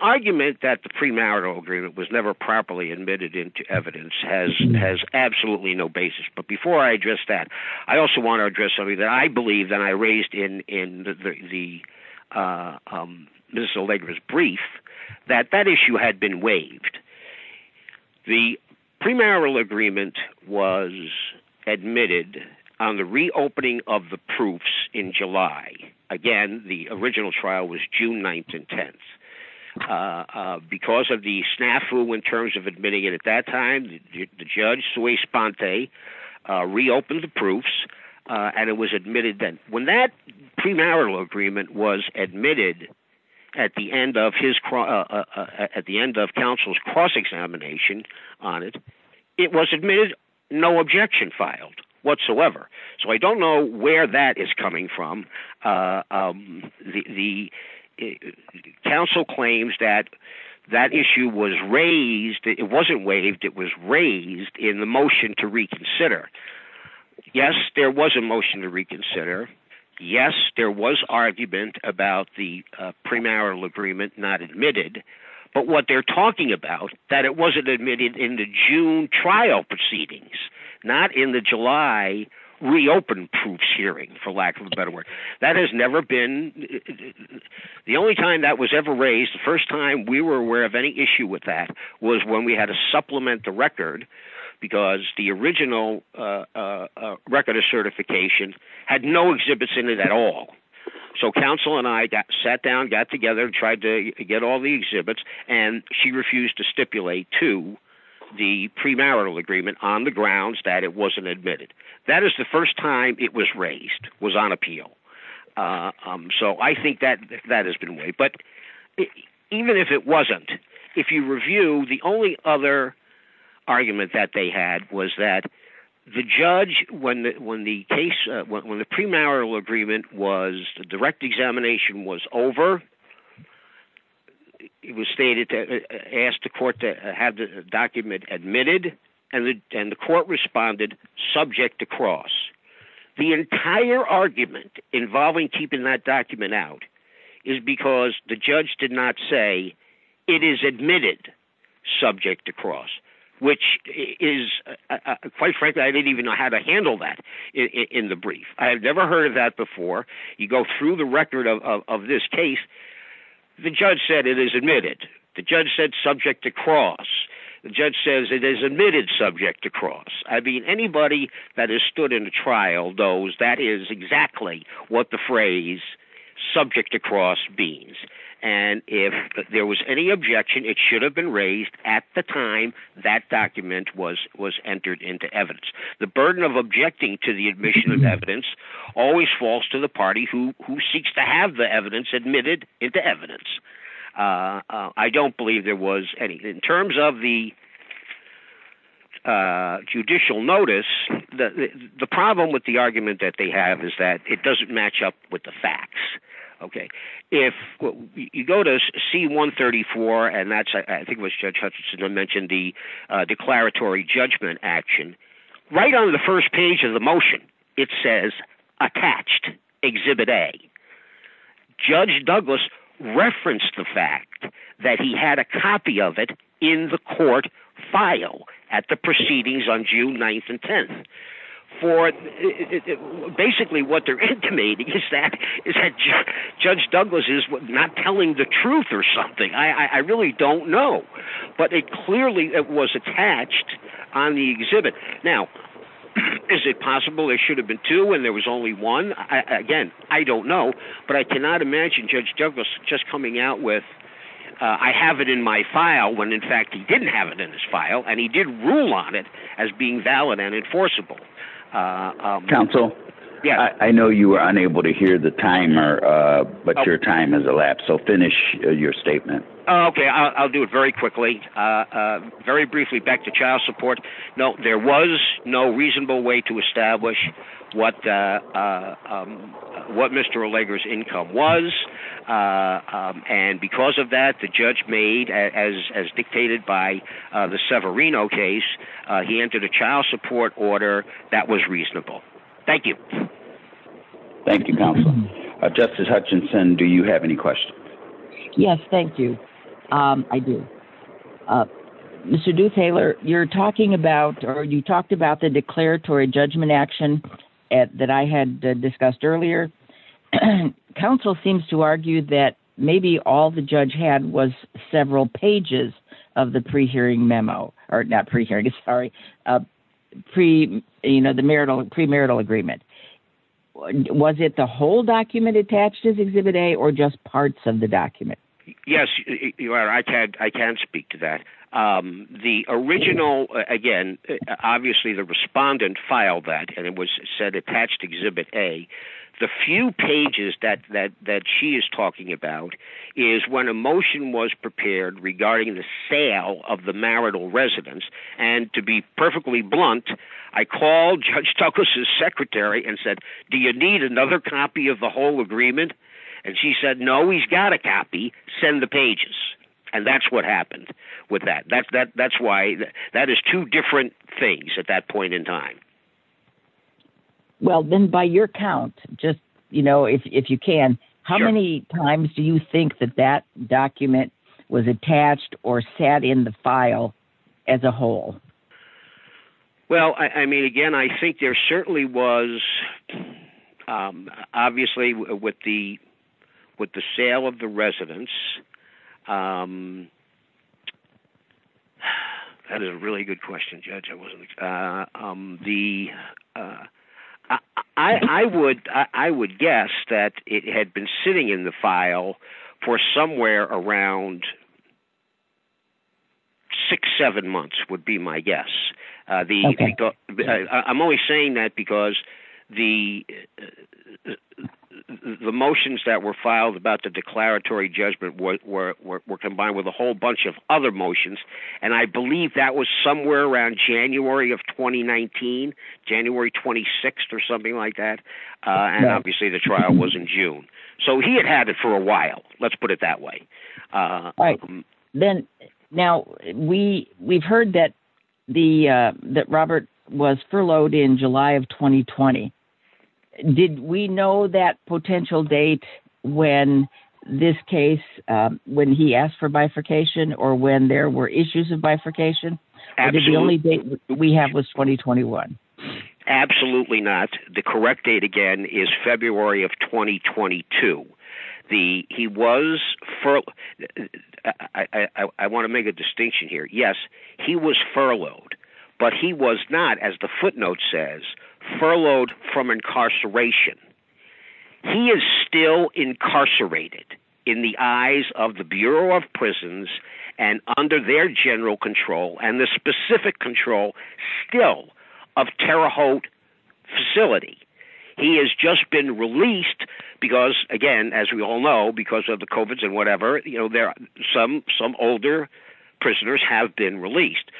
argument that the premarital agreement was never properly admitted into evidence has absolutely no basis. Before I address that, I also want to address something that I believe that I raised in the brief that that issue had been waived. The premarital agreement was admitted on the reopening of the proofs in 2010. Because of the snafu in terms of admitting it at that time, the judge reopened the proofs and it was admitted then. When that premarital agreement was admitted at the end of counsel's cross-examination on it, it was admitted. No objection filed whatsoever. I don't know where that is coming from. The counsel claims that that issue was raised it wasn't waived, it was raised in the motion to reconsider. Yes, there was a motion to reconsider. Yes, there was argument about the premarital agreement not admitted. But what they're talking about, that it wasn't admitted in the June trial proceedings, not in the July reopen hearing. That has never been the only time that was ever raised, the first time we were aware of any issue was when we had to supplement the record because the original record of certification had no exhibits in it at all. So counsel and I sat down and tried to get all the documents on the grounds that it wasn't admitted. That is the first time it was raised, was on appeal. So I think that has been waived. But even if it wasn't, if you review, the only other argument that they had was that the judge, when the premarital agreement was, the direct examination was over, it was stated, asked the court to have the document admitted, and the court responded subject to cross. The entire argument involving keeping that document out is because the judge did not say it is admitted subject to cross, which is, quite frankly, I didn't even know how to handle that in the brief. I have never heard of that before. You go through the record of this case, the judge said it is admitted. The judge said subject to cross. The judge says it is admitted subject to cross. Anybody that has stood in a trial knows that is exactly what the phrase subject to cross means. If there was any objection, it should have been raised at the time that document was entered into evidence. The burden of objecting to the admission of evidence always falls to the party who seeks to have the evidence admitted into evidence. I don't believe there was anything. In terms of the judicial notice, the problem with the have is that it doesn't match up with the facts. If you go to C-134, I think judge Hutchinson mentioned the declaratory judgment action, right on the first page of the motion. It says attached, exhibit A. Judge Douglas referenced the fact that he had a copy of it in the court file at the proceedings on June 9th and 10th. Basically, what they're intimating is that judge Douglas is not telling the truth or something. I really don't know. But it clearly was attached on the exhibit. Now, is it possible there should have been two and there was only one? Again, I don't know, but I cannot imagine judge Douglas coming out with I have it in my file when in fact he didn't have it in his file and he did rule on it as being valid and enforceable. Counsel, I know you were unable to hear the timer, but your time has elapsed, so finish your statement. Okay, I'll do it very quickly. Very briefly, back to child support, there was no reasonable way to establish what Mr. Allegra's income was, and because of that, the judge made, as dictated by the Severino case, he entered a child support order that was reasonable. Thank you. Thank you, counsel. Justice Hutchinson, do you have any questions? Yes, thank you. I do. Mr. Duthaler, you talked about the declaratory judgment action that I had discussed earlier. Counsel seems to argue that maybe all the judge had was several pages of the pre-hearing memo, or not pre-hearing, sorry, the pre-marital agreement. Was it the whole document attached as Exhibit A or just parts of the document? Yes, I can speak to that. The original, again, obviously the respondent filed that and it was said attached to Exhibit A. The few pages that she is talking about is when a motion was prepared regarding the sale of the marital residence, and to be perfectly blunt, I called Judge Tucker's secretary and said do you need another copy of the whole agreement? She said no, we always got a copy, send the pages. That's what happened with that. That is two different things at that point in time. By your count, if you can, how many times do you think that document was attached or sat in the file as a whole? Well, again, I think there certainly was, obviously, with the sale of the residence, that is a really good question, Judge. I would guess that it had been sitting in the file for somewhere around six, seven months would be my guess. I'm only saying that because the motions that were filed about the declaratory judgment were combined with a whole bunch of other motions. I believe that was somewhere around January of 2019, January 26th or something like that. Obviously, the trial was in June. He had had it for a while. Let's put it that way. We have heard that Robert was furloughed in July of 2020. Did we know that potential date when this case, when he asked for bifurcation or when there were issues of bifurcation? The only date we have was 2021. Absolutely not. The correct date again is February of 2022. He was furloughed. I want to make a distinction here. Yes, he was furloughed from incarceration. He is still incarcerated in the eyes of the Bureau of Prisons and under their general control and the specific control still of the facility. He has just been released because, again, as we all know, some older prisoners have been released.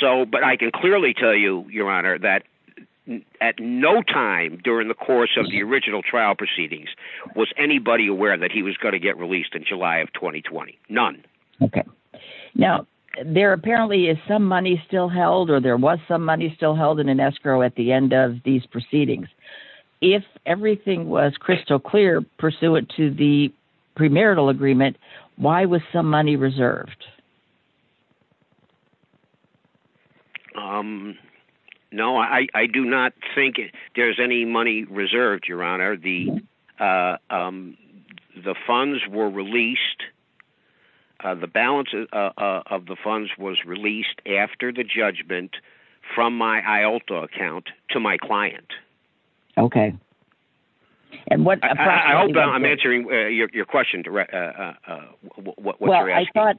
But I can clearly tell you, Your Honor, that at no time during the course of the original trial proceedings was anybody aware that he was going to get released in July of 2020. None. Okay. Now, there apparently is some money still held or there was some money still held in escrow at the end of these proceedings. If correct, Your Honor. No, I do not think there's any money reserved, Your Honor. The funds were released, the balance of the funds was released after the judgment from my IALTA account to my client. Okay. I hope I'm answering your question, what you're asking. Well,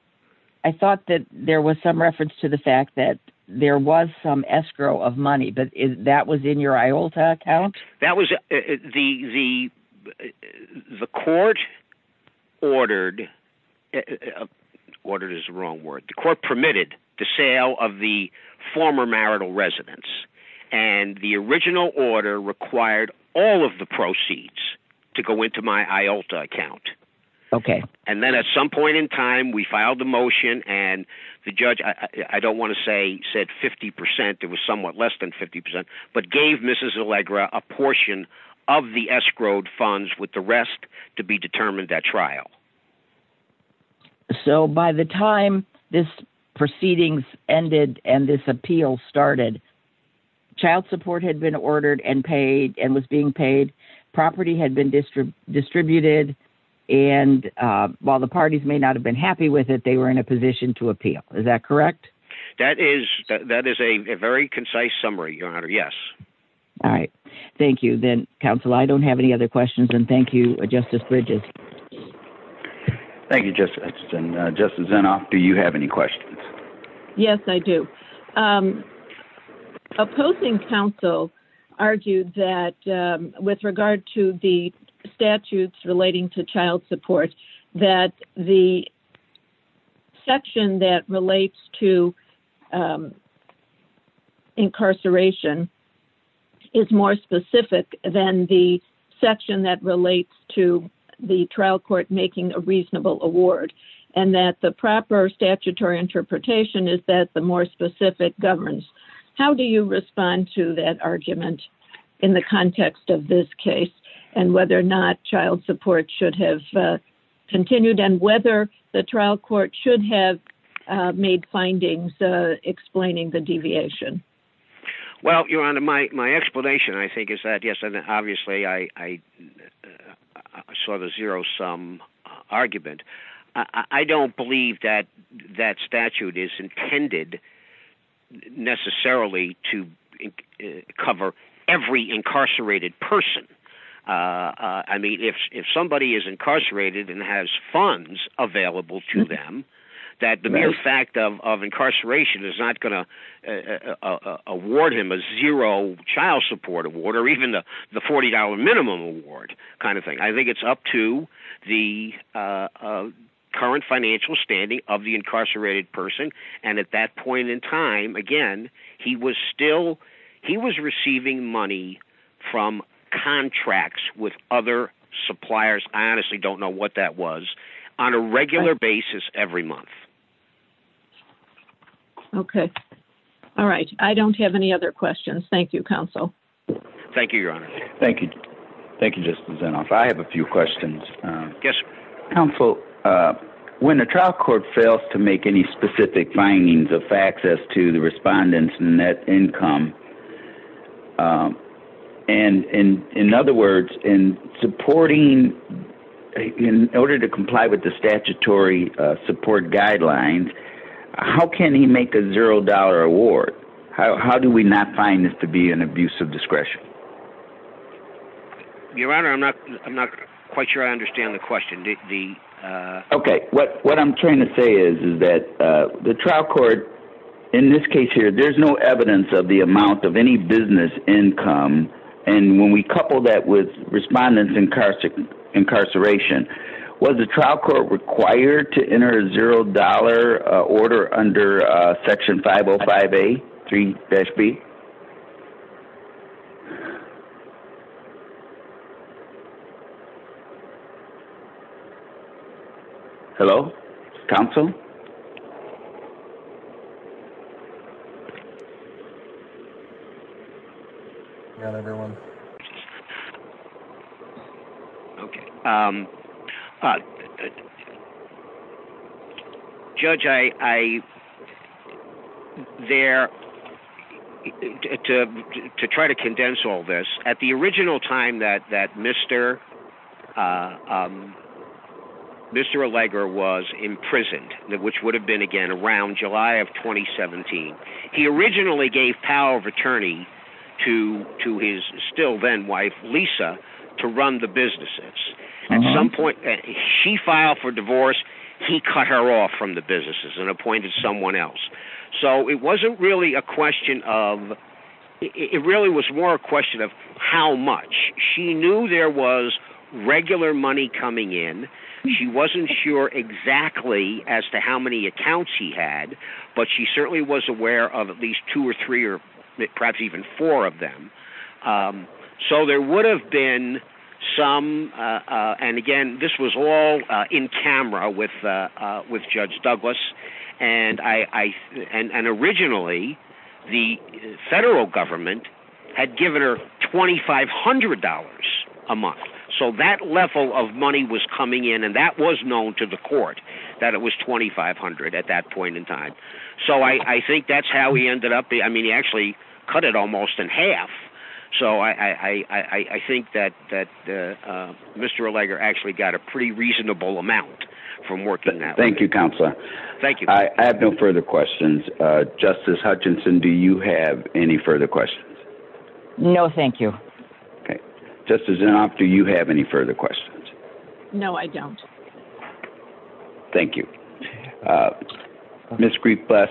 I thought that there was some reference to the fact that there was some escrow of money, but that was in your IALTA account? That was the court ordered, ordered is the wrong word, the court permitted the sale of the former marital residence, and the original order required all of the proceeds to go into my IALTA account. Okay. And then at some point in time we filed the motion and the judge, I don't want to say 50%, but gave Mrs. Allegra a portion of the escrow funds with the rest to be determined at trial. So by the time this proceedings ended and this appeal started, child support had been ordered and paid and was being paid, property had been distributed, and while the parties may not have been happy with it, they were in a position to appeal. Is that correct? That is a very concise summary, Your Honor. Yes. All right. Thank you. Thank you, counsel. I don't have any other questions, and thank you, Justice Bridges. Thank you, Justice. Justice Zinnoff, do you have any questions? Yes, I do. Opposing counsel argued that with regard to the statutes relating to child support that the section that relates to incarceration is more specific than the section that relates to the trial court making a reasonable award and that the proper statutory interpretation is that the more specific governs. How do you respond to that argument in the context of this case and whether or not child support should have continued and whether the trial court should have made findings explaining the statute? I don't believe that that statute is intended necessarily to cover every incarcerated person. If somebody is incarcerated and has funds available to them, that the mere fact of incarceration is not going to award him a zero child support award or even the $40 minimum award. I think it's up to the current financial standing of the incarcerated person and at that point in time, again, he was still receiving money from contracts with other suppliers. I honestly don't know what that was. On a regular basis every month. I don't have any other questions. you, counsel. Thank you. I have a few questions. Counsel, when a trial court fails to make any specific findings, in other words, in supporting in order to comply with the statutory support guidelines, how can he make a zero dollar award? How do we not find this to be an abuse of discretion? I'm not sure I understand the question. What I'm trying to say is the trial court, in this case there's no evidence of the amount of any business income. When we couple that with respondents incarceration, was the trial court required to enter a zero dollar order under section 505A 3-B? Hello? with respondents incarceration, was the trial court required to enter a zero dollar order under section 505A 3-B? Hello? Counsel? Judge, I there to try to condense all this, at the original time that Mr. Allegra was imprisoned, which would have been again around July of 2017, he originally gave power of attorney to his still then wife, Lisa, to run the businesses. At some point, she filed for divorce, he cut her off from the businesses and appointed someone else. So it wasn't really a question of how much. She knew there was regular money coming in. She wasn't sure exactly as to how many accounts he had, but she certainly was aware of at least two or three or perhaps even four of them. So there would have been some and again, this was all in camera with Judge Douglas and originally the federal government had given her $2,500 a month. So that level of money was coming in and that was known to the court that it was $2,500 at that point in time. So I think that's how he actually cut it almost in half. So I think that Mr. Allegra actually got a pretty reasonable amount from working that way. Thank you Counselor. I have no further questions. Justice Hutchinson, do you have any further questions? No, thank you. Okay. Justice Inhofe, do you have any further questions? No, I don't. Thank you. Ms. Greif-Buss,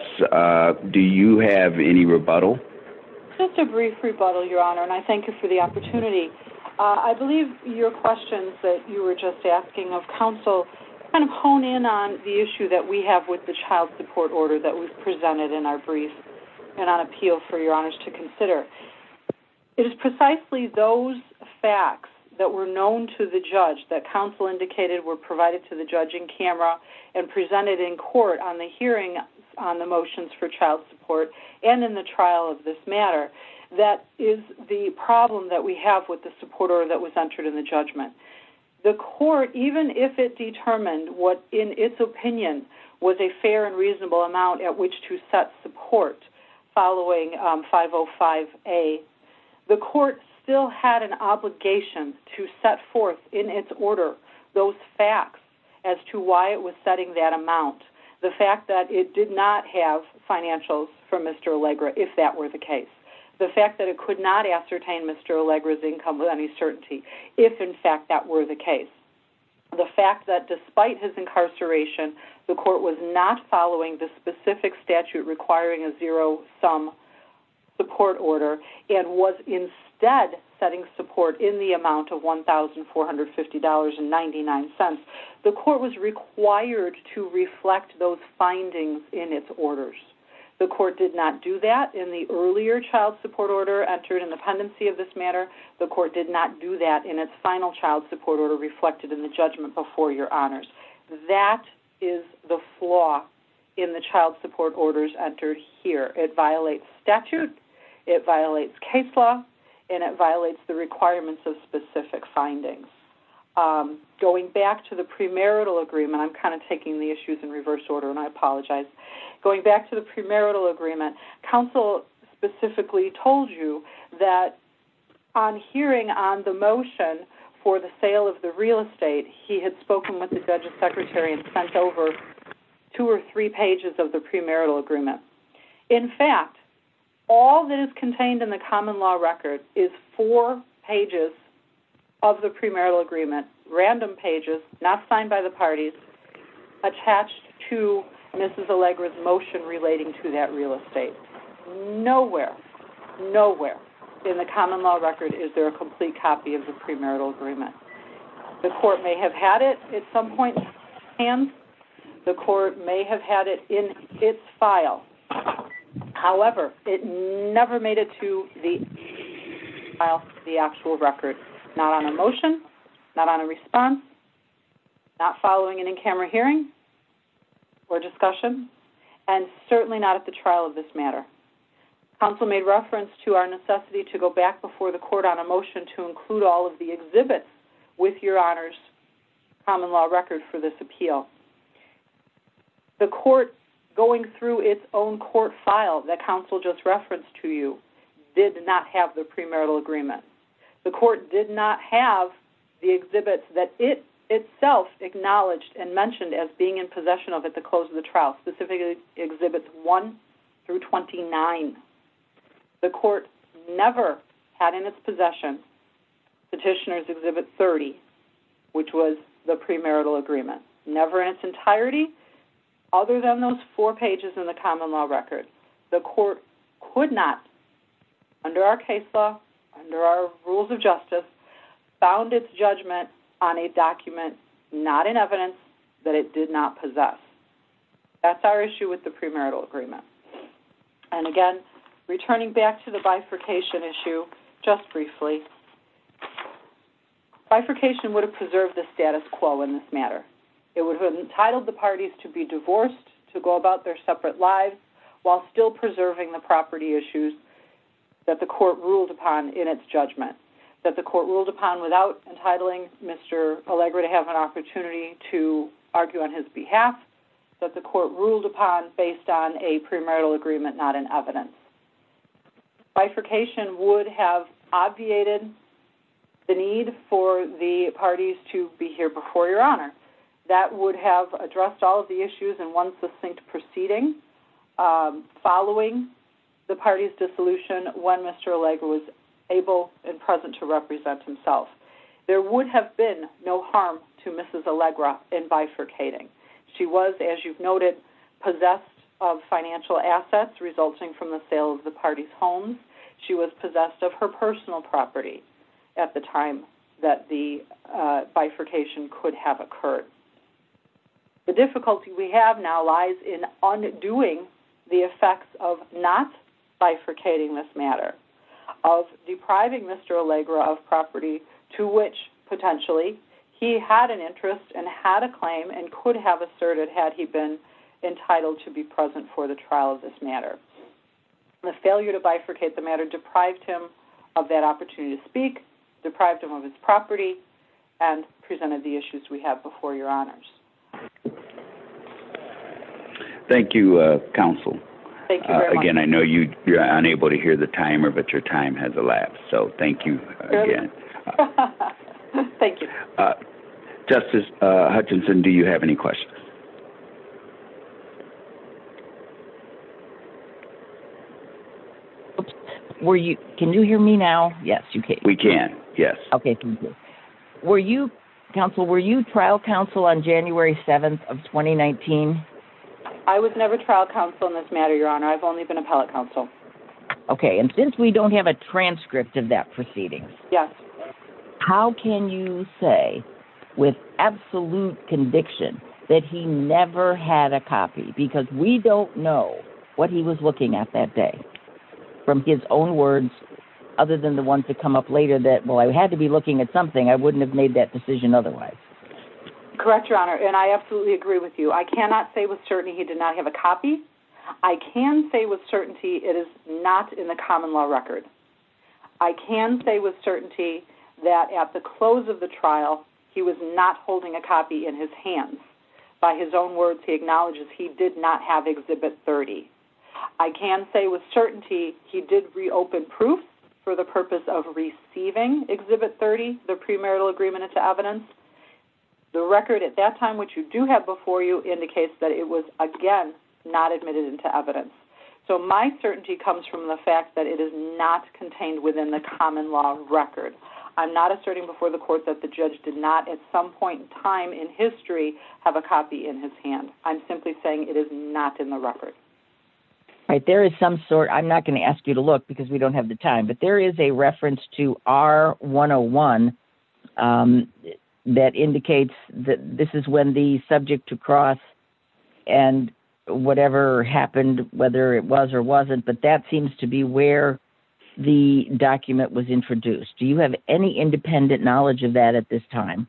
do you have any rebuttal? Just a brief rebuttal, Your Honor, and I thank you for the opportunity. I believe your questions were about the child support order that was presented in our brief and on appeal for Your Honor to consider. It is precisely those facts that were known to the judge that counsel indicated were provided to the judge in camera and presented in court on the hearing on the motions for child support and in the trial of this matter that is the problem that we have with the support order that was entered in the judgment. The court, even if it determined what in its opinion was a fair and reasonable amount at which to set support following 505A, the court still had an obligation to set forth in its order those facts as to why it was setting that amount. The fact that it did not have financials from Mr. Allegra, if that were the case. The fact that it could not ascertain Mr. Allegra's income with any certainty, if in fact that were the case. The fact that despite his incarceration, the court was not following the specific statute requiring a zero-sum support order and was instead setting support in the amount of $1,450.99, the court was required to reflect those findings in its orders. The court did not do that in the earlier child support order entered in the pendency of this matter. The court did not do that in its final child support order reflected in the judgment before your honors. That is the flaw in the child support orders entered here. It violates statute, it violates case law, and it violates the requirements of specific findings. Going back to the premarital agreement, I'm kind of taking the issues in reverse order and I apologize. Going back to the premarital agreement, counsel specifically told you that on hearing on the motion for the sale of property, no copy of the premarital agreement. In fact, all that is contained in the common law record is four pages of the premarital agreement, random pages not signed by the parties, attached to Mrs. Allegra's motion relating to that real estate. Nowhere, nowhere in the common law record does it make its file. However, it never made it to the actual record. Not on a motion, not on a response, not following an in-camera hearing or discussion, and certainly not at the trial of this matter. Counsel made reference to our necessity to go back before the court on a motion to include all of the exhibits with your honors common law record for this appeal. The court going through its own court file that counsel just referenced to you did not have the premarital agreement. The court did not have the exhibits that it itself acknowledged and mentioned as being in possession of at the close of the trial, specifically exhibits 1 through 29. The court never had in its possession Petitioner's Exhibit 30, which was the premarital agreement. entirety, other than those four pages in the common law record. The court could not, under our case law, under our rules of justice, found its judgment on a document not in evidence that it did not possess. That's our issue with the premarital agreement. And again, returning back to the bifurcation just briefly, bifurcation would have preserved the status quo in this matter. It would have entitled the parties to be divorced, to go back to having the property issues that the court ruled upon in its judgment, that the court ruled upon without entitling Mr. Allegra to have an opportunity to argue on his behalf, that the court ruled upon based on a premarital agreement not in evidence. Bifurcation would have obviated the need for the parties to be here before Your Honor. That would have addressed all of the issues in one succinct proceeding following the parties' dissolution when Mr. Allegra was able and present to represent himself. There would have been no harm to Mrs. Allegra in bifurcating. She was, as you've noted, possessed of financial assets resulting from the sale of the party's homes. She was possessed of her personal property at the time that the bifurcation could have occurred. The difficulty we have now lies in undoing the effects of not bifurcating this matter, of depriving Mr. Allegra of property to which, potentially, he had an interest and had a claim and could have asserted that he had been entitled to be present for the trial of this matter. The failure to bifurcate the matter deprived him of that opportunity to speak, deprived him of his property, and presented the issues we have before your honors. Thank you, counsel. Again, I know you're unable to hear the timer, but your time has elapsed. Thank you again. Justice Hutchinson, do you have any questions? Can you hear me now? Yes. We can. Were you trial counsel on January 7th of 2019? I was counsel in this matter, your honor. I've only been appellate counsel. Since we don't have a transcript of that proceeding, can you please tell me how can you say with absolute conviction that he never had a copy because we don't know what he was looking at that day from his own words other than the ones that come up later that, well, I had to be looking at something. I wouldn't have made that decision otherwise. Correct, your honor. I absolutely agree with you. I cannot say with certainty he did not have a copy. I can say with certainty it is not in the common law record. I can say with certainty that at the close of the trial he was not holding a copy in his hands. By his own words he acknowledges he did not have a copy in his hands. I'm not asserting before the court that the judge did not at some point in history have a copy in his I'm simply saying it is not in the record. I'm not going to ask you to look because we don't have a copy in the record. I don't have the time. There is a reference to R 101 that indicates this is when the subject to cross and whatever happened, whether it was or wasn't. That seems to be where the document was introduced. Do you have any knowledge of that at this time?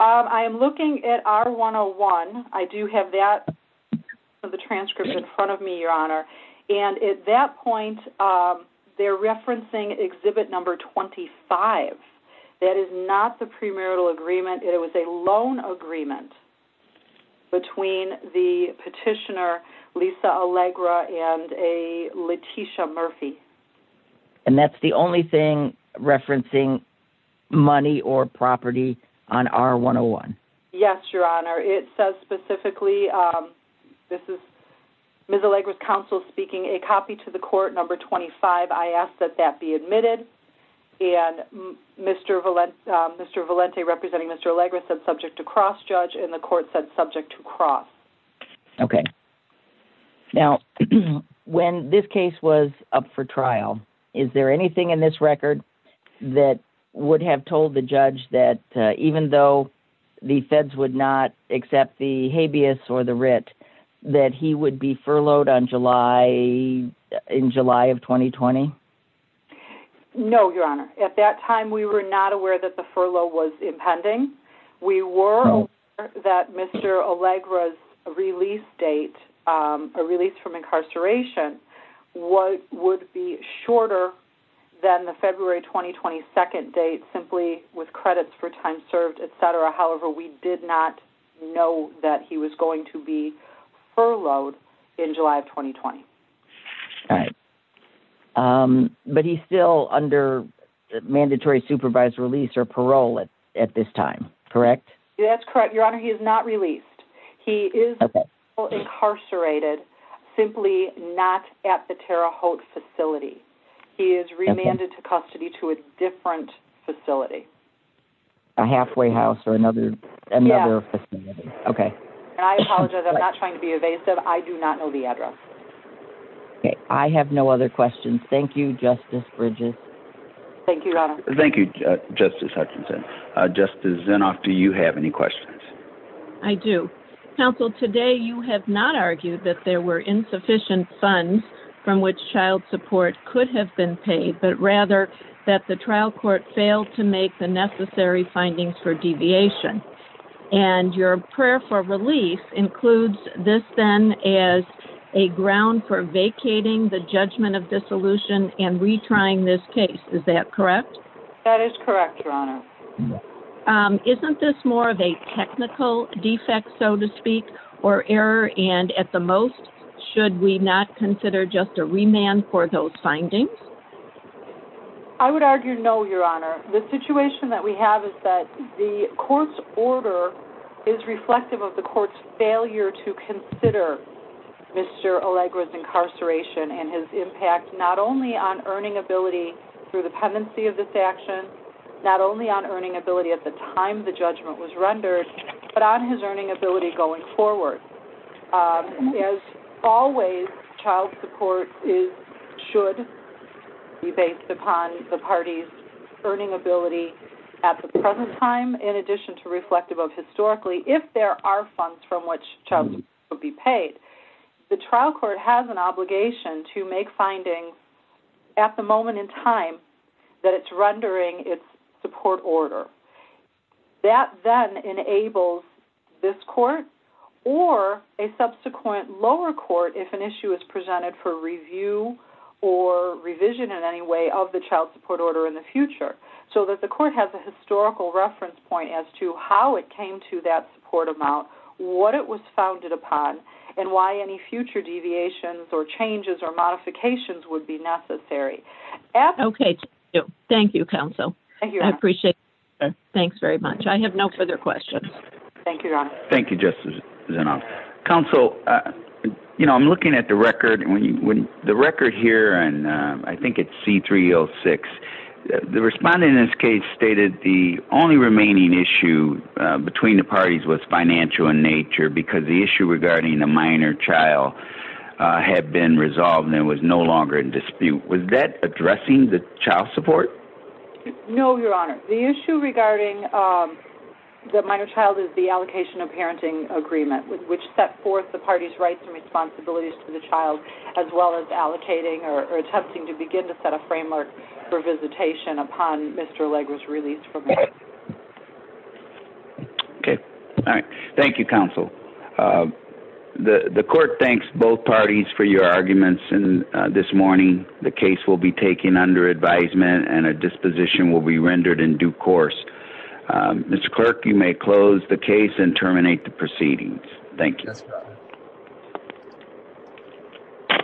I'm looking at R 101. I do have that in front of me, your honor. At that point, they're referencing exhibit 25. That is not the premarital agreement. It was a loan agreement between the petitioner, Lisa Allegra, and a Leticia Murphy. That's the only thing referencing money or like that. I'm looking at R 101. Yes, your honor. It says specifically, this is Ms. Allegra's counsel speaking, a copy to the court, number 25. I ask that that be admitted. Mr. Valente said subject to the federal law. Is it true that even though the feds would not accept the habeas or the writ, that he would be furloughed in July of 2020? No, your honor. At that time, we were not aware that the furlough was impending. We were aware that Mr. Allegra's release date, the release from incarceration, would be shorter than the February 22nd date simply with credits for time served, et cetera. However, we did not know that he was going to be furloughed in July of 2020. But he's still under mandatory supervised release or parole at this time, correct? That's correct, your honor. He is not released. He is incarcerated simply not at the facility. He is remanded to custody to a different facility. A halfway house or another facility. I apologize. I do not know the address. I have no other questions. Thank you, your honor. Thank you, Justice Bridges. Thank you, Justice Hutchinson. Justice Zinoff, do you have any questions? I do. Counsel, today you have not argued that there were insufficient funds from which child support could have been paid, but rather that the trial court failed to make the necessary findings for deviation. And your prayer for relief includes this then as a ground for vacating the judgment of dissolution and retrying this case. Is that correct? That is correct, your honor. Isn't this more of a technical defect, so to speak, or error, and at the most, should we not consider just a remand for those findings? I would argue no, your honor. The situation that we have is that the court's order is reflective of the court's failure to consider Mr. Allegra's incarceration and his impact not only on earning ability through the pendency of this action, not only on earning ability at the time the judgment was rendered, but on his earning ability going forward. As always, child support should be reflected upon the party's earning ability at the present time, in addition to reflective of historically, if there are funds from which child support would be paid, the trial court has an obligation to make findings at the moment in time that it's rendering its support order. That then enables this court, or a subsequent lower court, if an issue is raised, to judgment on the child support order in the future, so that the court has a historical reference point as to how it came to that support amount, what it was founded upon, and why any future deviations or changes or modifications would be necessary. Okay. Thank you, counsel. I appreciate it. I have no further questions. Thank you, Your Honor. Thank you, Justice Zinov. Counsel, you know, I'm looking at the record here, and I think it's C-306. The responding in this case stated the only remaining issue between the parties was financial in nature because the issue regarding the minor child had been resolved and was no longer in dispute. Was that correct? Your Honor. The child is the allocation of parenting agreement which set forth the parties' rights and responsibilities to the child as well as allocating or attempting to set a framework for visitation upon Mr. Leger's release. Okay. Thank you, counsel. The court is adjourned. You may close the case and terminate the proceedings. Thank you.